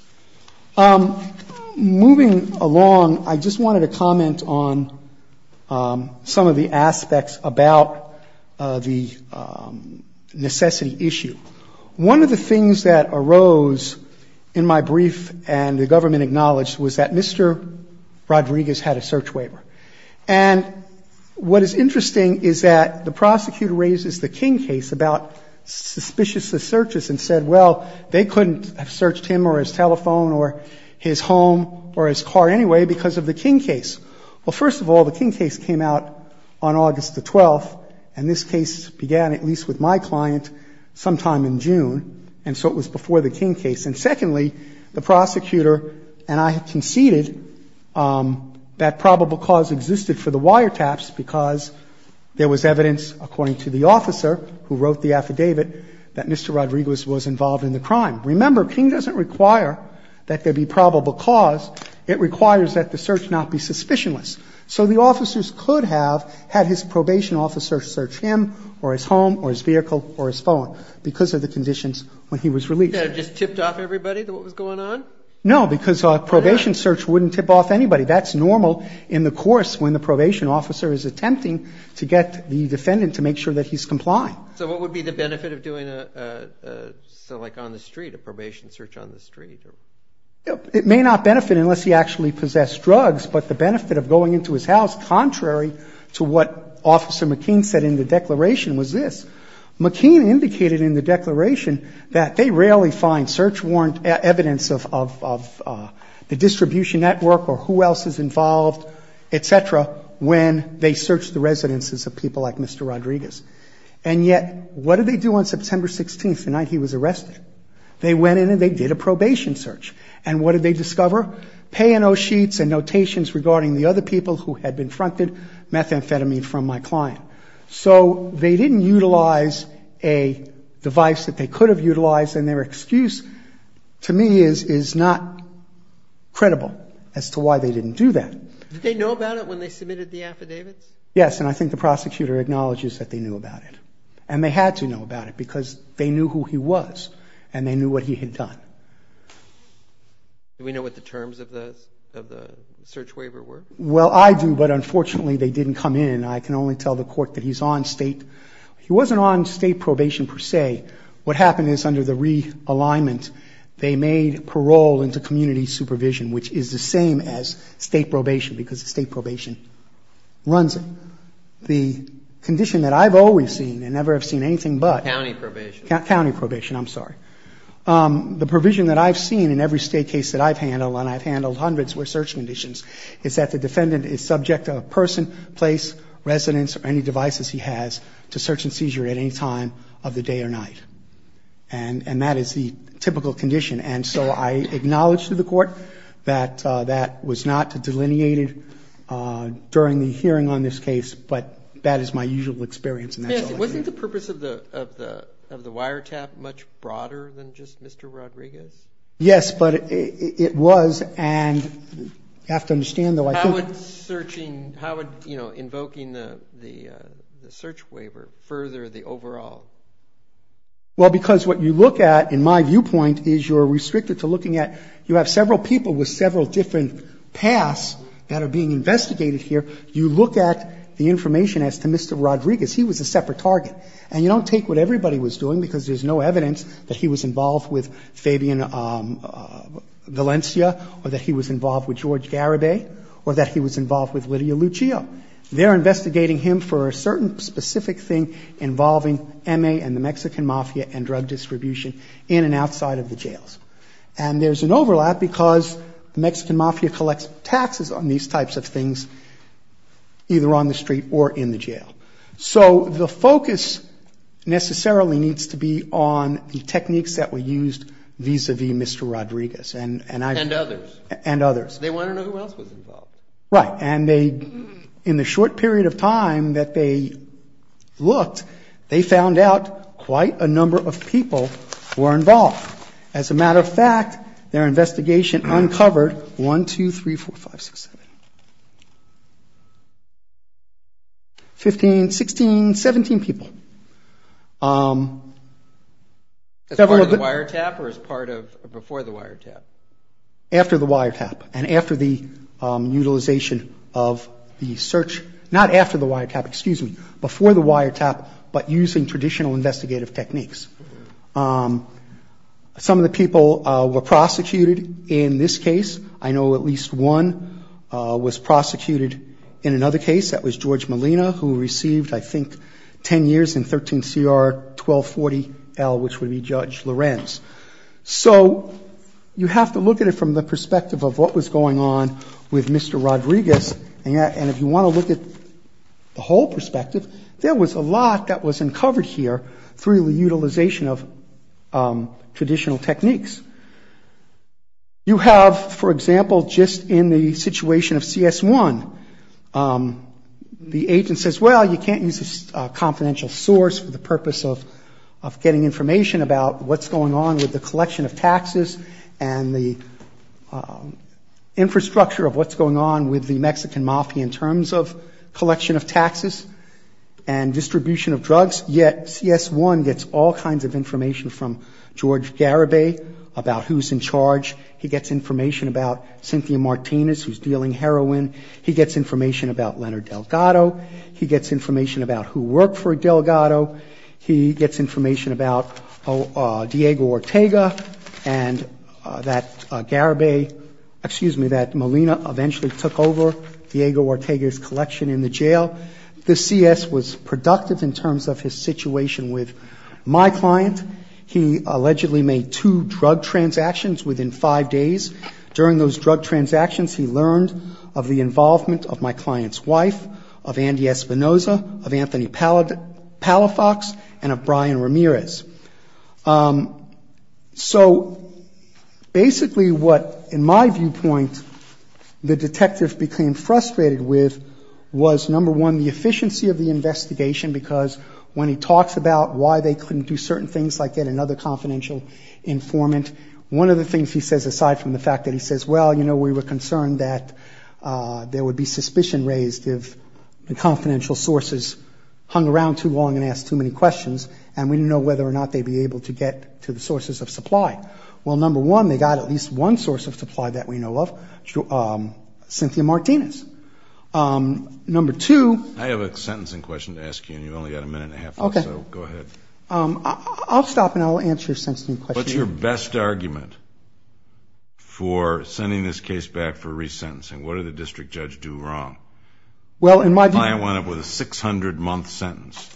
Moving along, I just wanted to comment on some of the aspects about the necessity issue. One of the things that arose in my brief and the government acknowledged was that Mr. Rodriguez had a search waiver. And what is interesting is that the prosecutor raises the King case about suspicious searches and said, well, they couldn't have searched him or his telephone or his home or his car anyway because of the King case. Well, first of all, the King case came out on August the 12th, and this case began, at least with my client, sometime in June. And so it was before the King case. And secondly, the prosecutor and I conceded that probable cause existed for the wiretaps because there was evidence, according to the officer who wrote the affidavit, that Mr. Rodriguez was involved in the crime. Remember, King doesn't require that there be probable cause. It requires that the search not be suspicious. So the officers could have had his probation officer search him or his home or his vehicle or his phone because of the conditions when he was released. Did that just tip off everybody, what was going on? No, because a probation search wouldn't tip off anybody. That's normal in the course when the probation officer is attempting to get the defendant to make sure that he's complying. So what would be the benefit of doing a, like on the street, a probation search on the street? It may not benefit unless he actually possessed drugs, but the benefit of going into his house, contrary to what Officer McKean said in the declaration, was this. McKean indicated in the declaration that they rarely find search warrant evidence of the distribution network or who else is involved, et cetera, when they search the residences of people like Mr. Rodriguez. And yet, what did they do on September 16th, the night he was arrested? They went in and they did a probation search. And what did they discover? Pay and owe sheets and notations regarding the other people who had been fronted methamphetamine from my client. So they didn't utilize a device that they could have utilized, and their excuse to me is not credible as to why they didn't do that. Did they know about it when they submitted the affidavit? Yes, and I think the prosecutor acknowledges that they knew about it. And they had to know about it because they knew who he was and they knew what he had done. Do we know what the terms of the search waiver were? Well, I do, but unfortunately they didn't come in. I can only tell the court that he's on state. He wasn't on state probation per se. What happened is under the realignment, they made parole into community supervision, which is the same as state probation because state probation runs it. The condition that I've always seen and never have seen anything but County probation. County probation, I'm sorry. The provision that I've seen in every state case that I've handled, and I've handled hundreds with search conditions, is that the defendant is subject to a person, place, residence, or any devices he has to search and seizure at any time of the day or night. And that is the typical condition. And so I acknowledge to the court that that was not delineated during the hearing on this case, but that is my usual experience. Wasn't the purpose of the wiretap much broader than just Mr. Rodriguez? Yes, but it was, and you have to understand that. How would searching, how would, you know, invoking the search waiver further the overall? Well, because what you look at, in my viewpoint, is you're restricted to looking at, you have several people with several different paths that are being investigated here. You look at the information as to Mr. Rodriguez. He was a separate target. And you don't take what everybody was doing, because there's no evidence that he was involved with Fabian Valencia or that he was involved with George Garibay or that he was involved with Lydia Lucio. They're investigating him for a certain specific thing involving MA and the Mexican Mafia and drug distribution in and outside of the jails. And there's an overlap because Mexican Mafia collects taxes on these types of things, either on the street or in the jail. So the focus necessarily needs to be on the techniques that were used vis-à-vis Mr. Rodriguez. And others. And others. They want to know who else was involved. Right. And in the short period of time that they looked, they found out quite a number of people were involved As a matter of fact, their investigation uncovered 1, 2, 3, 4, 5, 6, 7, 8, 15, 16, 17 people. As part of the wiretap or as part of before the wiretap? After the wiretap. And after the utilization of the search. Not after the wiretap, excuse me. Before the wiretap, but using traditional investigative techniques. Some of the people were prosecuted in this case. I know at least one was prosecuted in another case. That was George Molina, who received, I think, 10 years in 13 CR 1240L, which would be Judge Lorenz. So you have to look at it from the perspective of what was going on with Mr. Rodriguez. And if you want to look at the whole perspective, there was a lot that was uncovered here through the utilization of traditional techniques. You have, for example, just in the situation of CS1, the agent says, well, you can't use a confidential source for the purpose of getting information about what's going on with the collection of taxes and the infrastructure of what's going on with the Mexican mafia in terms of collection of taxes and distribution of drugs. Yet CS1 gets all kinds of information from George Garibay about who's in charge. He gets information about Cynthia Martinez, who's dealing heroin. He gets information about Leonard Delgado. He gets information about who worked for Delgado. He gets information about Diego Ortega and that Garibay, excuse me, that Molina eventually took over Diego Ortega's collection in the jail. The CS was productive in terms of his situation with my client. He allegedly made two drug transactions within five days. During those drug transactions, he learned of the involvement of my client's wife, of Andy Espinoza, of Anthony Palafox, and of Brian Ramirez. So, basically what, in my viewpoint, the detective became frustrated with was, number one, the efficiency of the investigation because when he talks about why they couldn't do certain things like that in other confidential informant, one of the things he says aside from the fact that he says, well, you know, we were concerned that there would be suspicion raised if the confidential sources hung around too long and asked too many questions, and we didn't know whether or not they'd be able to get to the sources of supply. Well, number one, they got at least one source of supply that we know of, Cynthia Martinez. Number two... I have a sentencing question to ask you and you've only got a minute and a half left, so go ahead. I'll stop and I'll answer the sentencing question. What's your best argument for sending this case back for resentencing? What did the district judge do wrong? Well, in my view... I want it with a 600-month sentence.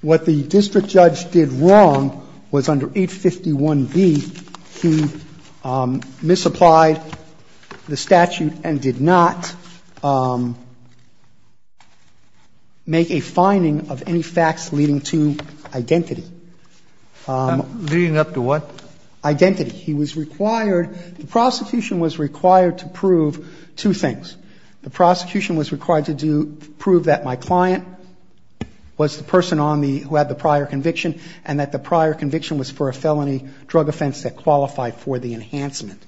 What the district judge did wrong was under 851B, he misapplied the statute and did not make a finding of any facts leading to identity. Leading up to what? Identity. He was required... The prosecution was required to prove two things. The prosecution was required to prove that my client was the person who had the prior conviction and that the prior conviction was for a felony drug offense that qualified for the enhancement.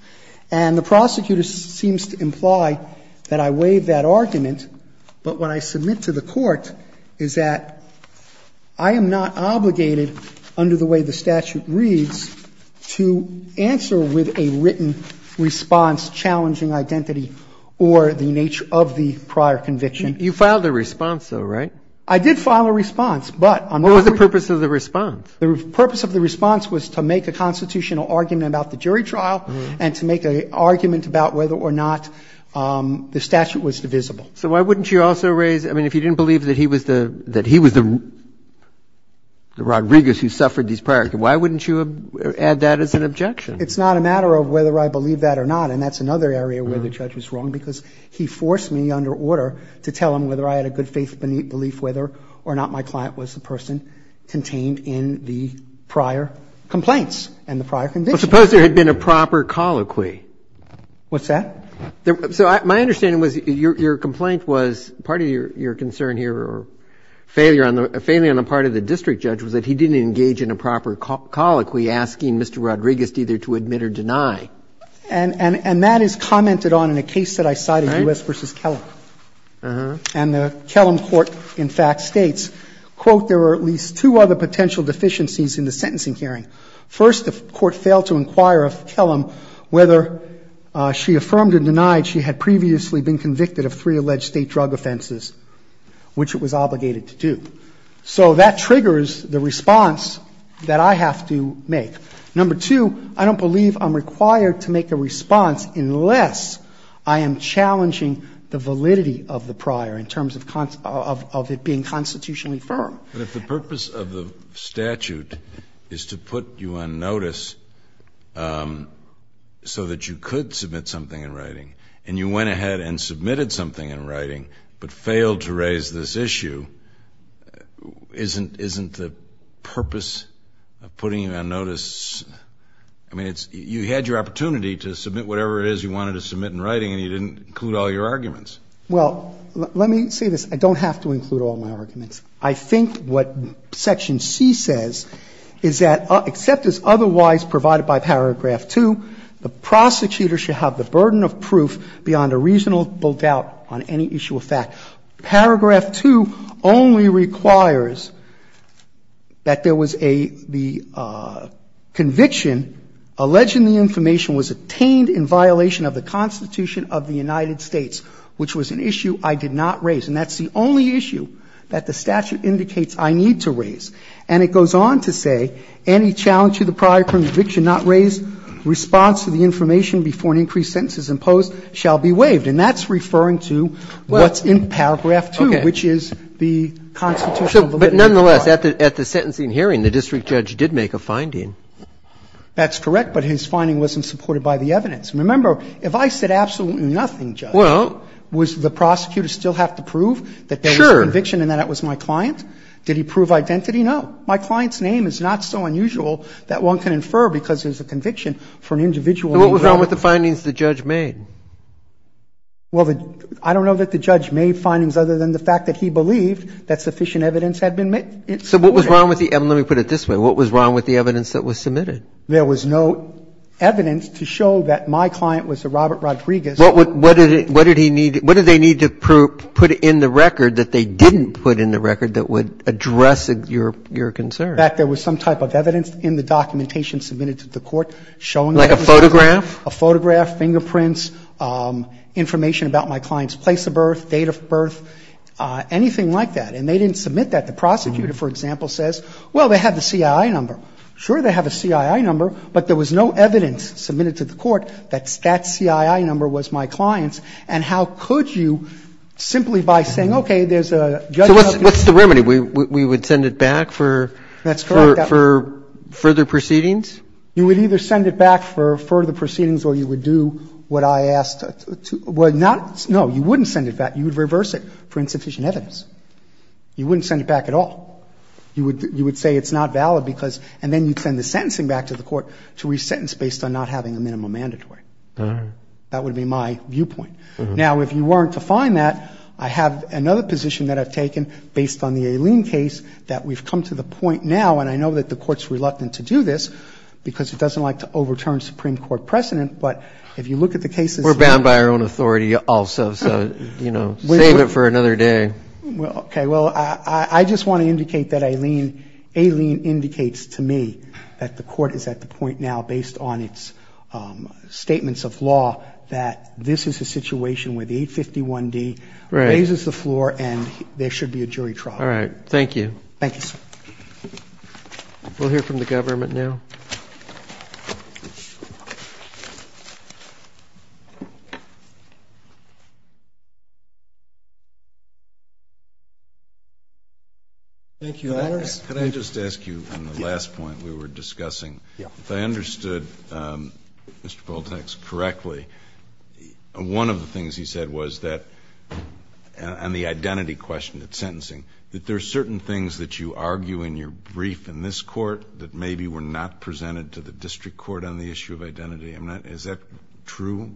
And the prosecutor seems to imply that I waived that argument, but what I submit to the court is that I am not obligated, under the way the statute reads, to answer with a written response challenging identity or the nature of the prior conviction. You filed a response, though, right? I did file a response, but... What was the purpose of the response? The purpose of the response was to make a constitutional argument about the jury trial and to make an argument about whether or not the statute was divisible. So why wouldn't you also raise... I mean, if you didn't believe that he was the Rodriguez who suffered these prior... why wouldn't you add that as an objection? It's not a matter of whether I believe that or not, and that's another area where the judge was wrong, because he forced me, under order, to tell him whether I had a good faith belief whether or not my client was the person contained in the prior complaints and the prior conviction. But suppose there had been a proper colloquy. What's that? So my understanding was your complaint was part of your concern here, or a failure on the part of the district judge, was that he didn't engage in a proper colloquy asking Mr. Rodriguez either to admit or deny. And that is commented on in a case that I cited, U.S. v. Kellum. And the Kellum court, in fact, states, quote, there were at least two other potential deficiencies in the sentencing hearing. First, the court failed to inquire of Kellum whether she affirmed or denied she had previously been convicted of three alleged state drug offenses, which it was obligated to do. So that triggers the response that I have to make. Number two, I don't believe I'm required to make a response unless I am challenging the validity of the prior in terms of it being constitutionally firm. But if the purpose of the statute is to put you on notice so that you could submit something in writing, and you went ahead and submitted something in writing but failed to raise this issue, isn't the purpose of putting you on notice, I mean, you had your opportunity to submit whatever it is you wanted to submit in writing and you didn't include all your arguments. Well, let me say this. I don't have to include all my arguments. I think what Section C says is that, except as otherwise provided by Paragraph 2, the prosecutor should have the burden of proof beyond a reasonable doubt on any issue of fact. Paragraph 2 only requires that the conviction alleging the information was obtained in violation of the Constitution of the United States, which was an issue I did not raise. And that's the only issue that the statute indicates I need to raise. And it goes on to say, any challenge to the prior conviction not raised, response to the information before an increased sentence is imposed shall be waived. And that's referring to what's in Paragraph 2, which is the Constitution. But nonetheless, at the sentencing hearing, the district judge did make a finding. That's correct, but his finding wasn't supported by the evidence. Remember, if I said absolutely nothing, Judge, would the prosecutor still have to prove that they had a conviction and that was my client? Did he prove identity? No. My client's name is not so unusual that one can infer because there's a conviction for an individual. So what was wrong with the findings the judge made? Well, I don't know that the judge made findings other than the fact that he believed that sufficient evidence had been made. So what was wrong with the evidence? Let me put it this way. What was wrong with the evidence that was submitted? There was no evidence to show that my client was a Robert Rodriguez. What did they need to put in the record that they didn't put in the record that would address your concern? In fact, there was some type of evidence in the documentation submitted to the court showing that a photograph, fingerprints, information about my client's place of birth, date of birth, anything like that, and they didn't submit that. The prosecutor, for example, says, well, they have the CII number. Sure, they have the CII number, but there was no evidence submitted to the court that that CII number was my client's, and how could you simply by saying, okay, there's a judge. So what's the remedy? We would send it back for further proceedings? You would either send it back for further proceedings or you would do what I asked. No, you wouldn't send it back. You would reverse it for insufficient evidence. You wouldn't send it back at all. You would say it's not valid, and then you'd send the sentencing back to the court to re-sentence based on not having a minimum mandatory. That would be my viewpoint. Now, if you weren't to find that, I have another position that I've taken based on the Aileen case that we've come to the point now, and I know that the court's reluctant to do this because it doesn't like to overturn Supreme Court precedent, but if you look at the cases We're bound by our own authority also, so, you know, save it for another day. Okay, well, I just want to indicate that Aileen indicates to me that the court is at the point now based on its statements of law that this is a situation where the 851D raises the floor and there should be a jury trial. All right, thank you. Thank you, sir. We'll hear from the government now. Thank you. Can I just ask you on the last point we were discussing? If I understood Mr. Baltax correctly, one of the things he said was that on the identity question, the sentencing, that there are certain things that you argue in your brief in this court that maybe were not presented to the district court on the issue of identity. Is that true?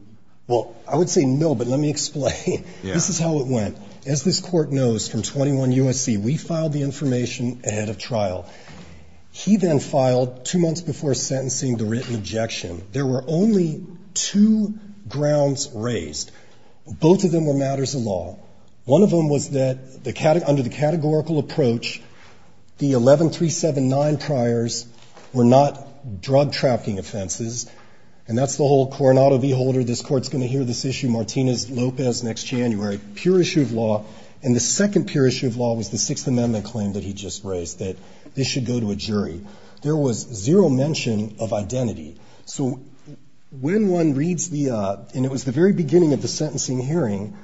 Well, I would say no, but let me explain. This is how it went. As this court knows from 21 U.S.C., we filed the information ahead of trial. He then filed two months before sentencing the written objection. There were only two grounds raised. Both of them were matters of law. One of them was that under the categorical approach, the 11379 priors were not drug-trafficking offenses, and that's the whole Coronado beholder. This court's going to hear this issue, Martinez-Lopez, next January. Pure issue of law. And the second pure issue of law was the Sixth Amendment claim that he just raised, that this should go to a jury. There was zero mention of identity. So when one reads the, and it was the very beginning of the sentencing hearing,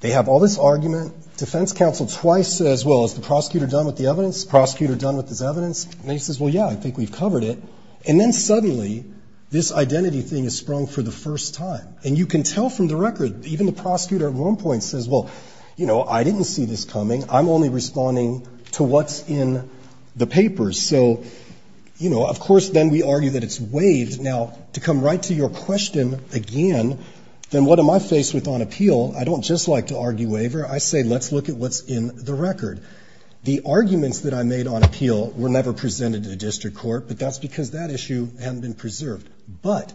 they have all this argument. The sentence counsel twice says, well, is the prosecutor done with the evidence? Is the prosecutor done with his evidence? And he says, well, yeah, I think we've covered it. And then suddenly this identity thing has sprung for the first time. And you can tell from the record, even the prosecutor at one point says, well, you know, I didn't see this coming. I'm only responding to what's in the papers. So, you know, of course then we argue that it's waived. Now, to come right to your question again, then what am I faced with on appeal? I don't just like to argue waiver. I say let's look at what's in the record. The arguments that I made on appeal were never presented to the district court, but that's because that issue hadn't been preserved. But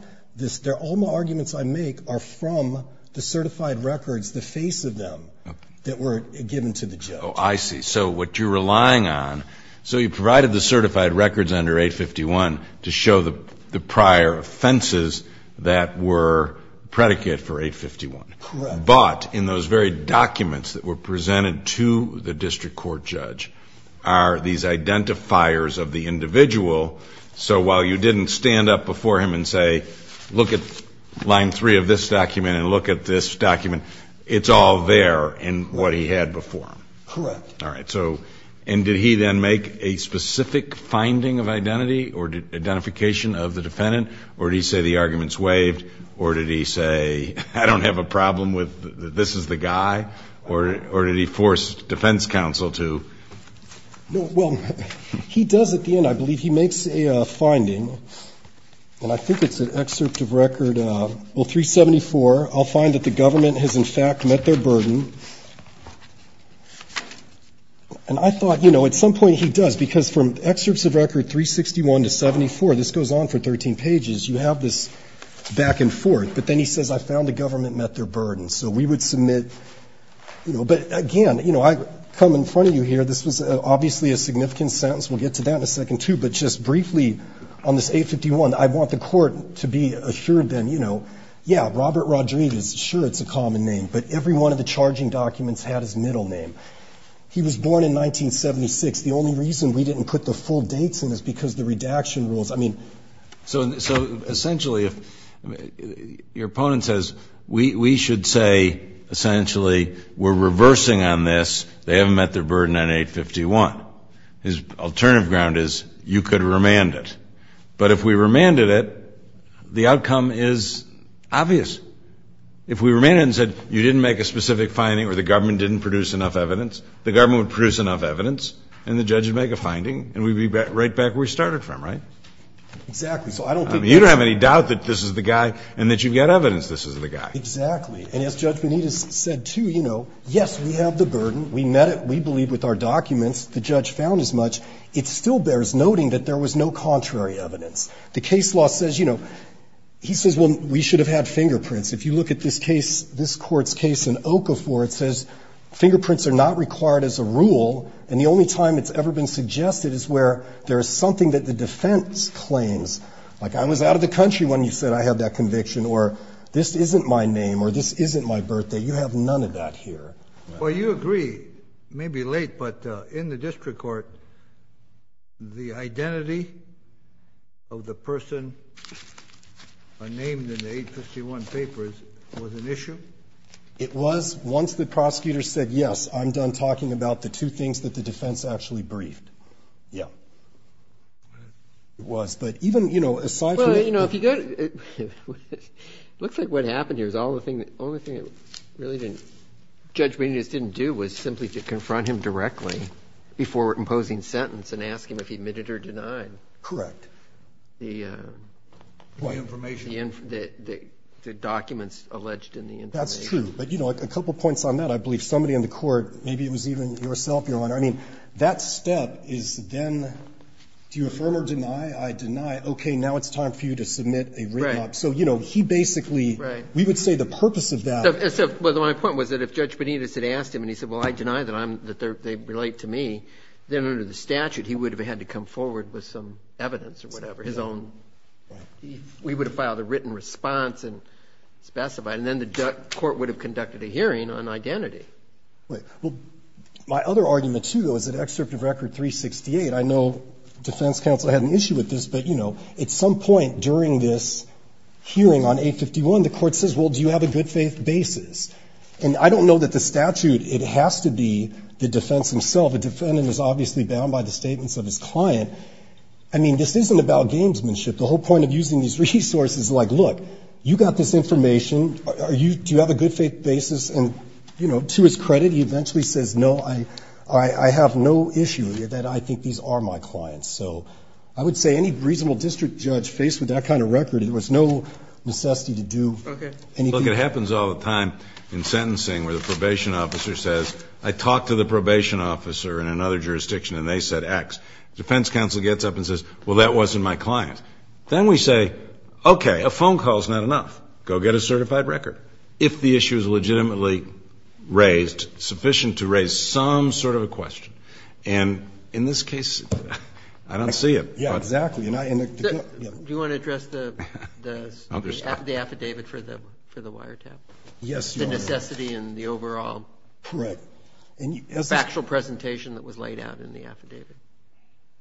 all my arguments I make are from the certified records, the face of them, that were given to the judge. Oh, I see. So what you're relying on, so you provided the certified records under A51 to show the prior offenses that were predicate for A51. Correct. But in those very documents that were presented to the district court judge are these identifiers of the individual. So while you didn't stand up before him and say, look at line three of this document and look at this document, it's all there in what he had before him. Correct. All right. And did he then make a specific finding of identity or identification of the defendant, or did he say the argument's waived, or did he say I don't have a problem with this is the guy, or did he force defense counsel to? Well, he does at the end, I believe. He makes a finding. Well, I think it's an excerpt of record 374. I'll find that the government has in fact met their burden. And I thought, you know, at some point he does, because from excerpts of record 361 to 74, this goes on for 13 pages. You have this back and forth. But then he says, I found the government met their burden. So we would submit. But, again, you know, I come in front of you here. This is obviously a significant sentence. We'll get to that in a second, too. But just briefly on this 851, I want the court to be assured then, you know, yeah, Robert Rodriguez, sure, it's a common name. But every one of the charging documents had his middle name. He was born in 1976. The only reason we didn't put the full dates in is because the redaction rules. I mean, so essentially your opponent says we should say essentially we're reversing on this. They haven't met their burden on 851. His alternative ground is you could remand it. But if we remanded it, the outcome is obvious. If we remanded it and said you didn't make a specific finding or the government didn't produce enough evidence, the government would produce enough evidence, and the judge would make a finding, and we'd be right back where we started from, right? Exactly. You don't have any doubt that this is the guy and that you've got evidence this is the guy. Exactly. And as Judge Benitez said, too, you know, yes, we have the burden. We met it. We believe with our documents the judge found as much. It still bears noting that there was no contrary evidence. The case law says, you know, he says, well, we should have had fingerprints. If you look at this case, this court's case in Okafor, it says fingerprints are not required as a rule, and the only time it's ever been suggested is where there's something that the defense claims. Like I was out of the country when you said I had that conviction, or this isn't my name, or this isn't my birthday. You have none of that here. Well, you agree. It may be late, but in the district court, the identity of the person named in the 851 papers was an issue? It was. Once the prosecutor said, yes, I'm done talking about the two things that the defense actually briefed. Yeah. It was. But even, you know, as far as I know. It looks like what happened here is the only thing the judge really didn't do was simply to confront him directly before imposing sentence and ask him if he admitted or denied the documents alleged in the information. That's true. But, you know, a couple points on that. I believe somebody in the court, maybe it was even yourself, Your Honor. I mean, that step is then do you affirm or deny? I deny. Okay, now it's time for you to submit a written. So, you know, he basically, we would say the purpose of that. The only point was that if Judge Benitez had asked him and he said, well, I deny that they relate to me, then under the statute he would have had to come forward with some evidence or whatever, his own. We would have filed a written response and specified. And then the court would have conducted a hearing on identity. My other argument, too, though, is that excerpt of Record 368. I know defense counsel had an issue with this, but, you know, at some point during this hearing on 851, the court says, well, do you have a good faith basis? And I don't know that the statute, it has to be the defense himself. The defendant is obviously bound by the statements of his client. I mean, this isn't about gamesmanship. The whole point of using these resources is like, look, you got this information. Do you have a good faith basis? And, you know, to his credit, he eventually says, no, I have no issue that I think these are my clients. So I would say any reasonable district judge faced with that kind of record, there was no necessity to do anything. Look, it happens all the time in sentencing where the probation officer says, I talked to the probation officer in another jurisdiction and they said X. Defense counsel gets up and says, well, that wasn't my client. Then we say, okay, a phone call is not enough. Go get a certified record. If the issue is legitimately raised, sufficient to raise some sort of a question. And in this case, I don't see it. Exactly. Do you want to address the affidavit for the wiretap? Yes. The necessity and the overall factual presentation that was laid out in the affidavit.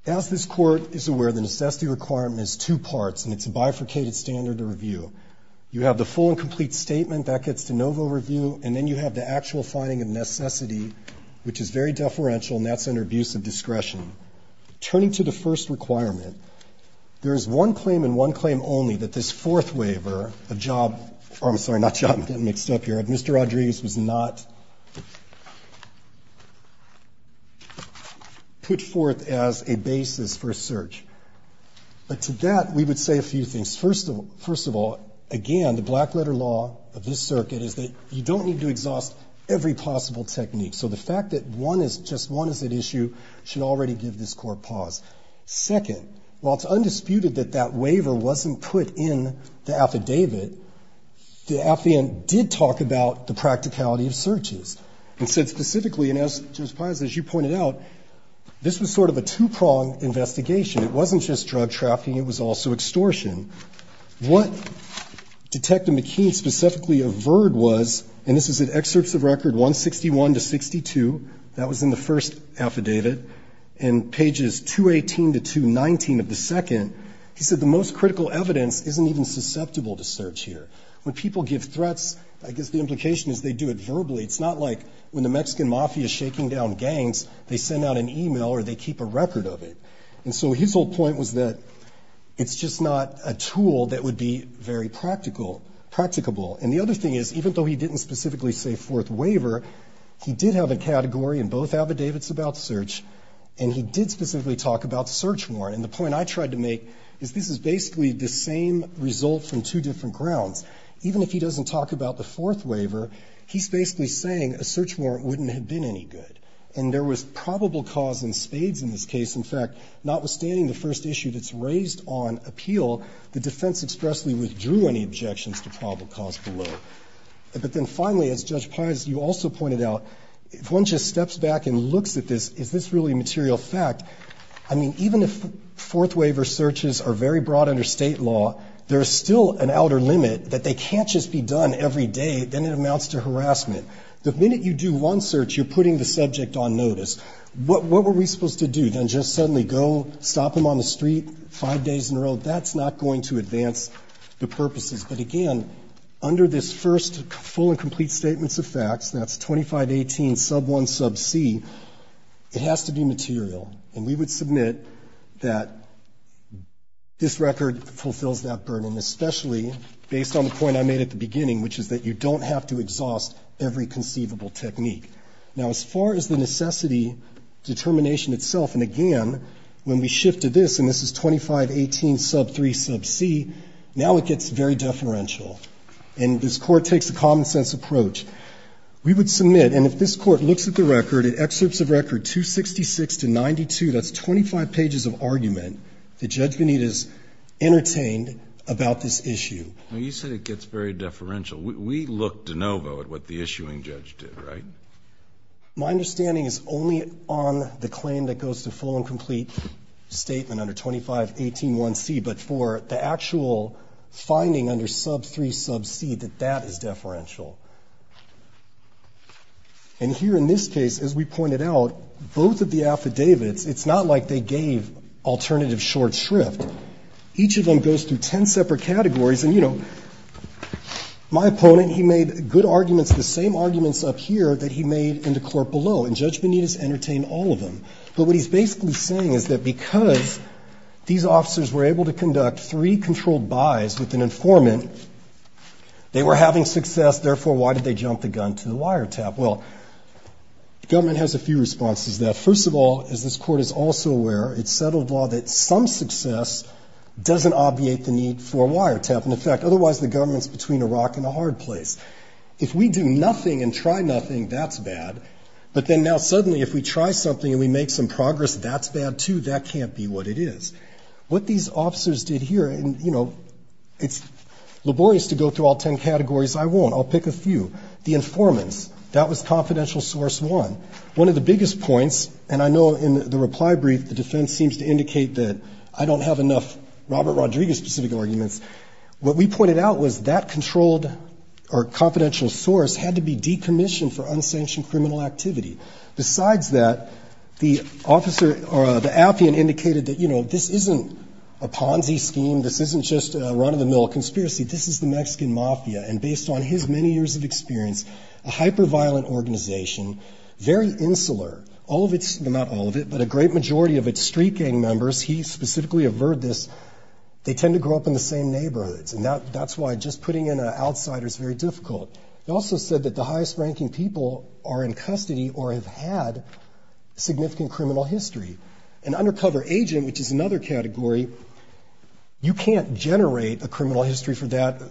As this court is aware, the necessity requirement is two parts. And it's a bifurcated standard of review. You have the full and complete statement. That gets de novo review. And then you have the actual finding of necessity, which is very deferential. And that's under abuse of discretion. Turning to the first requirement, there is one claim and one claim only that this fourth waiver, Mr. Andres does not put forth as a basis for search. But to that, we would say a few things. First of all, again, the black letter law of this circuit is that you don't need to exhaust every possible technique. So the fact that one is just one of the issue should already give this court pause. Second, while it's undisputed that that waiver wasn't put in the affidavit, the affidavit did talk about the practicality of searches. It said specifically, and as you pointed out, this was sort of a two-prong investigation. It wasn't just drug trafficking. It was also extortion. What Detective McKean specifically averred was, and this was in excerpts of record 161 to 62, that was in the first affidavit, and pages 218 to 219 of the second, he said the most critical evidence isn't even susceptible to search here. When people give threats, I guess the implication is they do it verbally. It's not like when the Mexican mafia is shaking down gangs, they send out an email or they keep a record of it. And so his whole point was that it's just not a tool that would be very practical, practicable. And the other thing is, even though he didn't specifically say fourth waiver, he did have a category in both affidavits about search, and he did specifically talk about search warrant. And the point I tried to make is this is basically the same result from two different grounds. Even if he doesn't talk about the fourth waiver, he's basically saying a search warrant wouldn't have been any good. And there was probable cause and stage in this case. In fact, notwithstanding the first issue that's raised on appeal, the defense expressly withdrew any objections to probable cause below. But then finally, as Judge Pires, you also pointed out, if one just steps back and looks at this, is this really material fact? I mean, even if fourth waiver searches are very broad under state law, there's still an outer limit that they can't just be done every day, then it amounts to harassment. The minute you do one search, you're putting the subject on notice. What were we supposed to do? Stop him on the street five days in a row? That's not going to advance the purposes. But again, under this first full and complete statements of facts, that's 2518 sub 1 sub c, it has to be material. And we would submit that this record fulfills that burden, especially based on the point I made at the beginning, which is that you don't have to exhaust every conceivable technique. Now, as far as the necessity determination itself, and again, when we shifted this, and this is 2518 sub 3 sub c, now it gets very deferential. And this Court takes a common-sense approach. We would submit, and if this Court looks at the record, it excerpts the record 266 to 92, that's 25 pages of argument that Judge Venita's entertained about this issue. You said it gets very deferential. We looked de novo at what the issuing judge did, right? My understanding is only on the claim that goes to full and complete statement under 2518 1 c, but for the actual finding under sub 3 sub c that that is deferential. And here in this case, as we pointed out, both of the affidavits, it's not like they gave alternative short shrift. Each of them goes through ten separate categories, and, you know, my opponent, he made good arguments, the same arguments up here that he made in the court below, and Judge Venita's entertained all of them. So what he's basically saying is that because these officers were able to conduct three controlled buys with an informant, they were having success, therefore why did they jump the gun to the wiretap? Well, the government has a few responses now. First of all, as this court is also aware, it's federal law that some success doesn't obviate the need for a wiretap. In fact, otherwise the government's between a rock and a hard place. If we do nothing and try nothing, that's bad. But then now suddenly if we try something and we make some progress, that's bad too. That can't be what it is. What these officers did here, and, you know, it's laborious to go through all ten categories. I won't. I'll pick a few. The informant, that was confidential source one. One of the biggest points, and I know in the reply brief, the defense seems to indicate that I don't have enough Robert Rodriguez-specific arguments. What we pointed out was that controlled or confidential source had to be decommissioned for unsanctioned criminal activity. Besides that, the officer, or the appian indicated that, you know, this isn't a Ponzi scheme. This isn't just a run-of-the-mill conspiracy. This is the Mexican mafia, and based on his many years of experience, a hyper-violent organization. Very insular. Not all of it, but a great majority of its street gang members, he specifically averred this, they tend to grow up in the same neighborhoods, and that's why just putting in an outsider is very difficult. He also said that the highest-ranking people are in custody or have had significant criminal history. An undercover agent, which is another category, you can't generate a criminal history for that.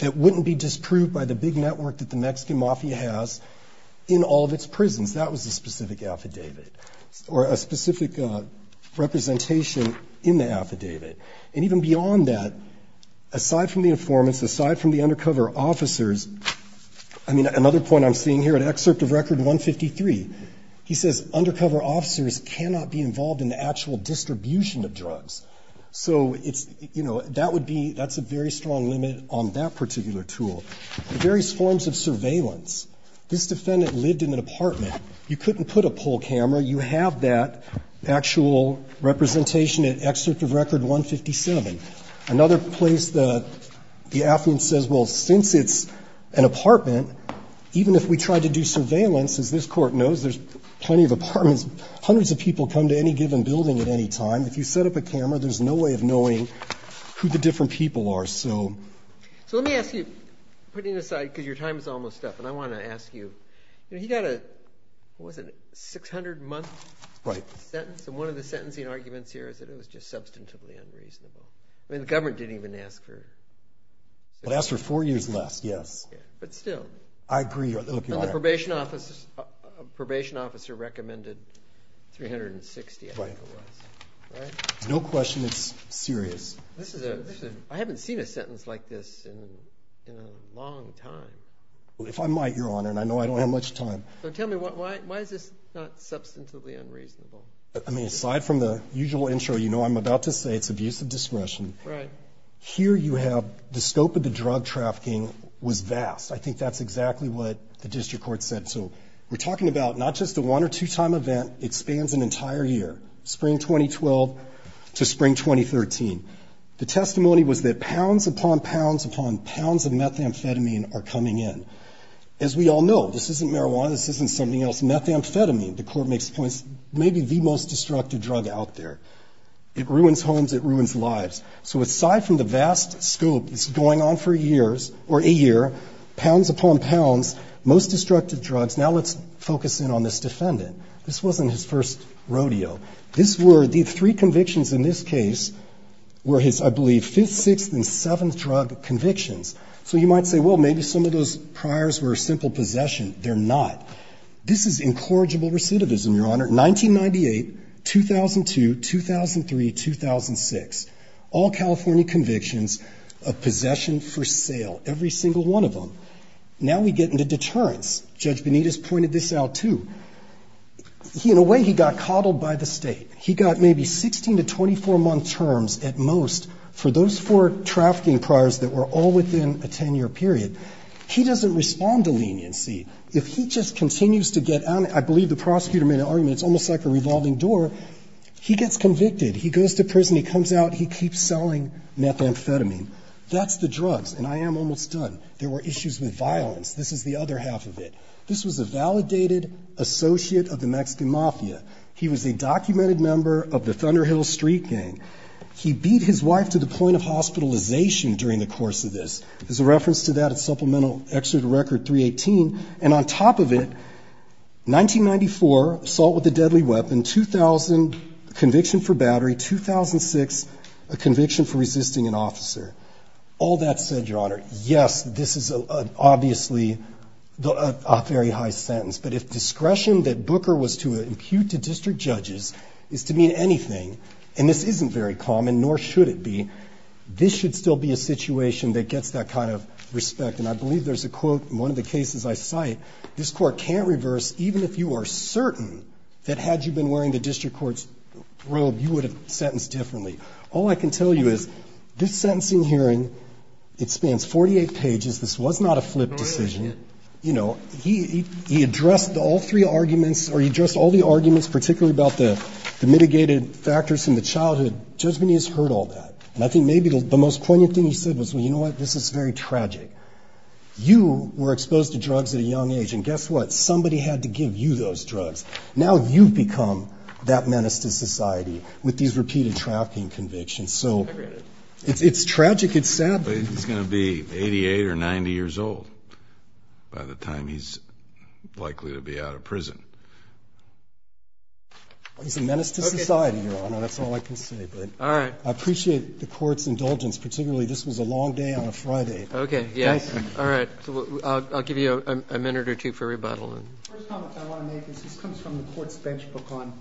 That wouldn't be disproved by the big network that the Mexican mafia has in all of its prisons. That was a specific affidavit, or a specific representation in the affidavit. And even beyond that, aside from the informants, aside from the undercover officers, I mean, another point I'm seeing here, an excerpt of Record 153, he says, undercover officers cannot be involved in the actual distribution of drugs. So that's a very strong limit on that particular tool. Various forms of surveillance. This defendant lived in an apartment. You couldn't put a poll camera. You have that actual representation in excerpt of Record 153. Another place the affidavit says, well, since it's an apartment, even if we try to do surveillance, as this court knows, there's plenty of apartments, hundreds of people come to any given building at any time. If you set up a camera, there's no way of knowing who the different people are. So let me ask you, putting aside, because your time is almost up, but I want to ask you, you know, he got a, what was it, 600 months? Right. And one of the sentencing arguments here is that it was just substantive mandates. I mean, the government didn't even ask for it. It asked for four years less, yes. But still. I agree. The probation officer recommended 360, I think it was. Right. No question is serious. I haven't seen a sentence like this in a long time. If I might, Your Honor, and I know I don't have much time. So tell me, why is this not substantively unreasonable? I mean, aside from the usual intro, you know, I'm about to say it's abuse of discretion. Right. Here you have the scope of the drug trafficking was vast. I think that's exactly what the district court said. So we're talking about not just the one or two-time event. It spans an entire year. Spring 2012 to spring 2013. The testimony was that pounds upon pounds upon pounds of methamphetamine are coming in. As we all know, this isn't marijuana. This isn't something else. Methamphetamine, the court makes points, may be the most destructive drug out there. It ruins homes. It ruins lives. So aside from the vast scope, it's going on for years, or a year, pounds upon pounds, most destructive drugs. Now let's focus in on this defendant. This wasn't his first rodeo. These three convictions in this case were his, I believe, fifth, sixth, and seventh drug convictions. So you might say, well, maybe some of those priors were a simple possession. They're not. This is incorrigible recidivism, Your Honor. 1998, 2002, 2003, 2006. All California convictions of possessions for sale, every single one of them. Now we get into deterrence. Judge Benitez pointed this out, too. In a way, he got coddled by the state. He got maybe 16 to 24-month terms at most for those four trafficking priors that were all within a 10-year period. He doesn't respond to leniency. If he just continues to get on it, I believe the prosecutor made an argument, it's almost like a revolving door, he gets convicted. He goes to prison. He comes out. He keeps selling methamphetamine. That's the drugs, and I am almost done. There were issues with violence. This is the other half of it. This was a validated associate of the Mexican mafia. He was a documented member of the Thunder Hill Street Gang. He beat his wife to the point of hospitalization during the course of this. There's a reference to that in Supplemental Excerpt of Record 318, and on top of it, 1994, assault with a deadly weapon, 2000, conviction for battery, 2006, a conviction for resisting an officer. All that said, Your Honor, yes, this is obviously a very high sentence. But if discretion that Booker was to impute to district judges is to mean anything, and this isn't very common, nor should it be, this should still be a situation that gets that kind of respect. And I believe there's a quote in one of the cases I cite, this court can't reverse, even if you are certain that had you been wearing the district court's robe, you would have sentenced differently. All I can tell you is this sentencing hearing, it spans 48 pages. This was not a flip decision. He addressed all three arguments, or he addressed all the arguments, particularly about the mitigated factors from the childhood, just when he's heard all that. And I think maybe the most corny thing he said was, well, you know what, this is very tragic. You were exposed to drugs at a young age, and guess what, somebody had to give you those drugs. Now you've become that menace to society with these repeated trafficking convictions. So it's tragic, it's sad. But he's going to be 88 or 90 years old by the time he's likely to be out of prison. It's a menace to society, Your Honor, that's all I can say. All right. I appreciate the court's indulgence, particularly this was a long day on a Friday. Okay, yeah. All right. I'll give you a minute or two for rebuttal. The first comment I want to make is this comes from the court's bench book on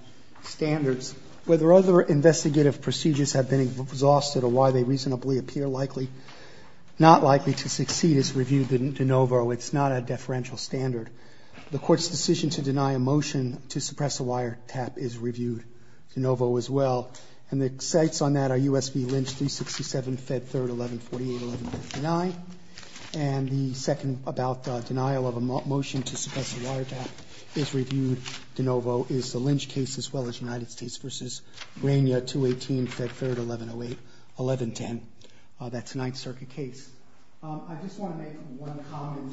standards. Whether other investigative procedures have been exhausted or why they reasonably appear likely, not likely to succeed, is reviewed de novo. It's not a deferential standard. The court's decision to deny a motion to suppress a wiretap is reviewed de novo as well. And the facts on that are U.S. v. Lynch, 367, Fed 3rd, 1148, 1149. And the second about the denial of a motion to suppress a wiretap is reviewed de novo, is the Lynch case as well as United States v. Rainier, 218, Fed 3rd, 1108, 1110. That's a Ninth Circuit case. I just want to make one comment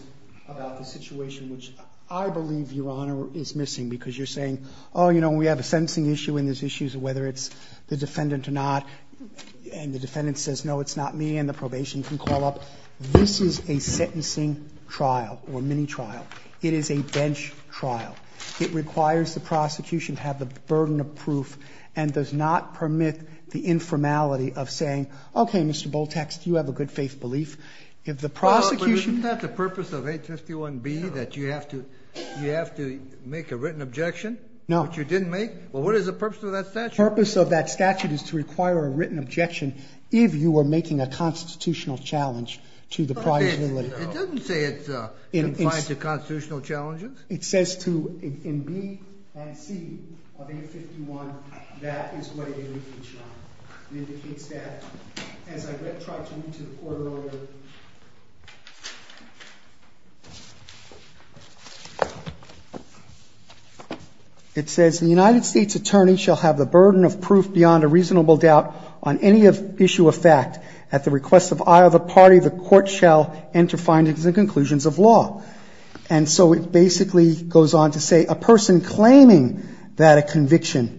about the situation which I believe, Your Honor, is missing because you're saying, oh, you know, we have a sentencing issue and there's issues of whether it's the defendant or not. And the defendant says, no, it's not me, and the probation can call up. This is a sentencing trial or mini trial. It is a bench trial. It requires the prosecution to have the burden of proof and does not permit the informality of saying, okay, Mr. Boltex, you have a good faith belief. If the prosecution — But isn't that the purpose of H.S.B. 1B, that you have to make a written objection? No. Which you didn't make? Well, what is the purpose of that statute? The purpose of that statute is to require a written objection if you are making a constitutional challenge to the prior rule of law. It doesn't say it confines to constitutional challenges. It says to — in B and T of H.S.B. 1, that is what it indicates, Your Honor. It indicates that. And if I could try to read to the court a little bit. It says, the United States attorney shall have the burden of proof beyond a reasonable doubt on any issue of fact. At the request of eye of the party, the court shall enter findings and conclusions of law. And so it basically goes on to say, a person claiming that a conviction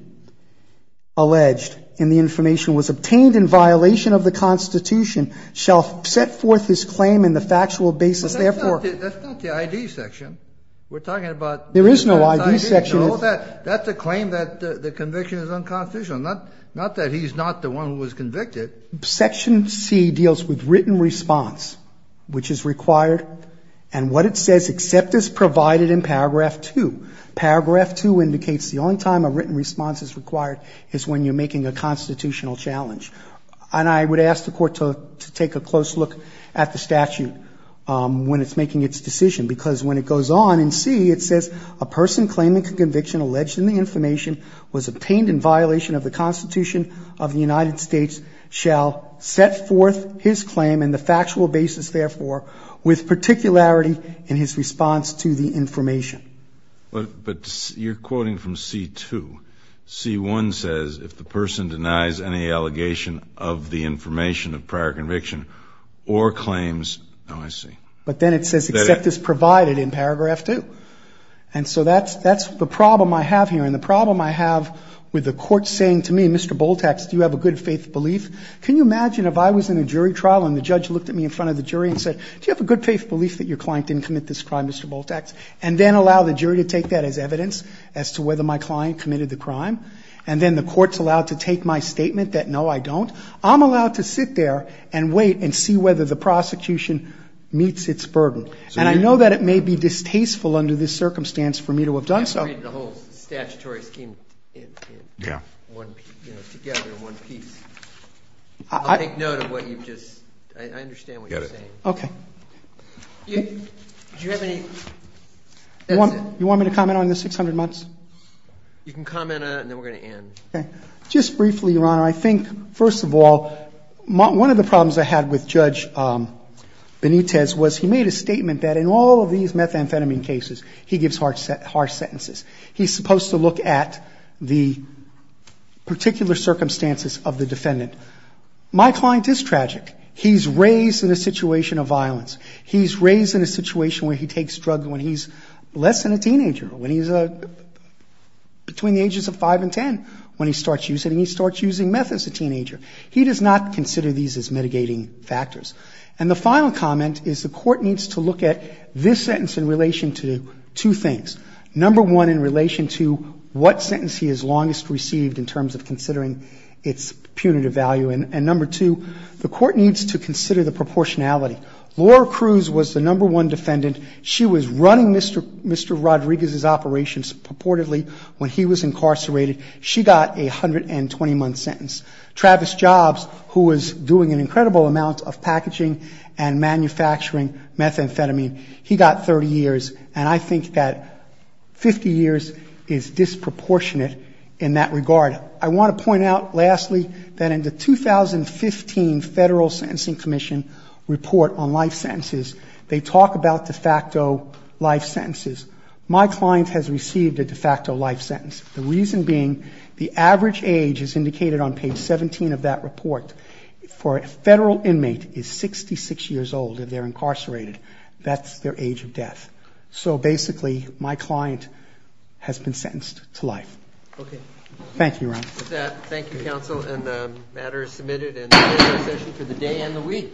alleged in the information was obtained in violation of the Constitution, shall set forth his claim in the factual basis, therefore — That's not the I.D. section. We're talking about — There is no I.D. section. That's a claim that the conviction is unconstitutional. Not that he's not the one who was convicted. Section C deals with written response, which is required. And what it says, except as provided in paragraph 2. Paragraph 2 indicates the only time a written response is required is when you're making a constitutional challenge. And I would ask the court to take a close look at the statute when it's making its decision. Because when it goes on in C, it says, a person claiming a conviction alleged in the information was obtained in violation of the Constitution of the United States, shall set forth his claim in the factual basis, therefore, with particularity in his response to the information. But you're quoting from C2. C1 says, if the person denies any allegation of the information of prior conviction or claims — Oh, I see. But then it says, except as provided in paragraph 2. And so that's the problem I have here. And the problem I have with the court saying to me, Mr. Bultak, do you have a good faith belief? Can you imagine if I was in a jury trial and the judge looked at me in front of the jury and said, do you have a good faith belief that your client didn't commit this crime, Mr. Bultak? And then allow the jury to take that as evidence as to whether my client committed the crime. And then the court's allowed to take my statement that, no, I don't. I'm allowed to sit there and wait and see whether the prosecution meets its burden. And I know that it may be distasteful under this circumstance for me to have done so. The whole statutory scheme in one piece. I'll take note of what you just — I understand what you're saying. Okay. Do you have any — You want me to comment on the 600 months? You can comment on it, and then we're going to end. Okay. Just briefly, Ron, I think, first of all, one of the problems I had with Judge Benitez was he made a statement that in all of these methamphetamine cases, he gives harsh sentences. He's supposed to look at the particular circumstances of the defendant. My client is tragic. He's raised in a situation of violence. He's raised in a situation where he takes drugs when he's less than a teenager, when he's between the ages of five and ten when he starts using it, and he starts using meth as a teenager. He does not consider these as mitigating factors. And the final comment is the court needs to look at this sentence in relation to two things. Number one, in relation to what sentence he has longest received in terms of considering its punitive value, and number two, the court needs to consider the proportionality. Laura Cruz was the number one defendant. She was running Mr. Rodriguez's operations purportedly when he was incarcerated. She got a 120-month sentence. Travis Jobs, who was doing an incredible amount of packaging and manufacturing methamphetamine, he got 30 years, and I think that 50 years is disproportionate in that regard. I want to point out, lastly, that in the 2015 Federal Sentencing Commission report on life sentences, they talk about de facto life sentences. My client has received a de facto life sentence, the reason being the average age, as indicated on page 17 of that report, for a federal inmate is 66 years old if they're incarcerated. That's their age of death. So, basically, my client has been sentenced to life. Thank you, Ron. With that, thank you, counsel, and the matter is submitted, and we'll close the session for the day and the week.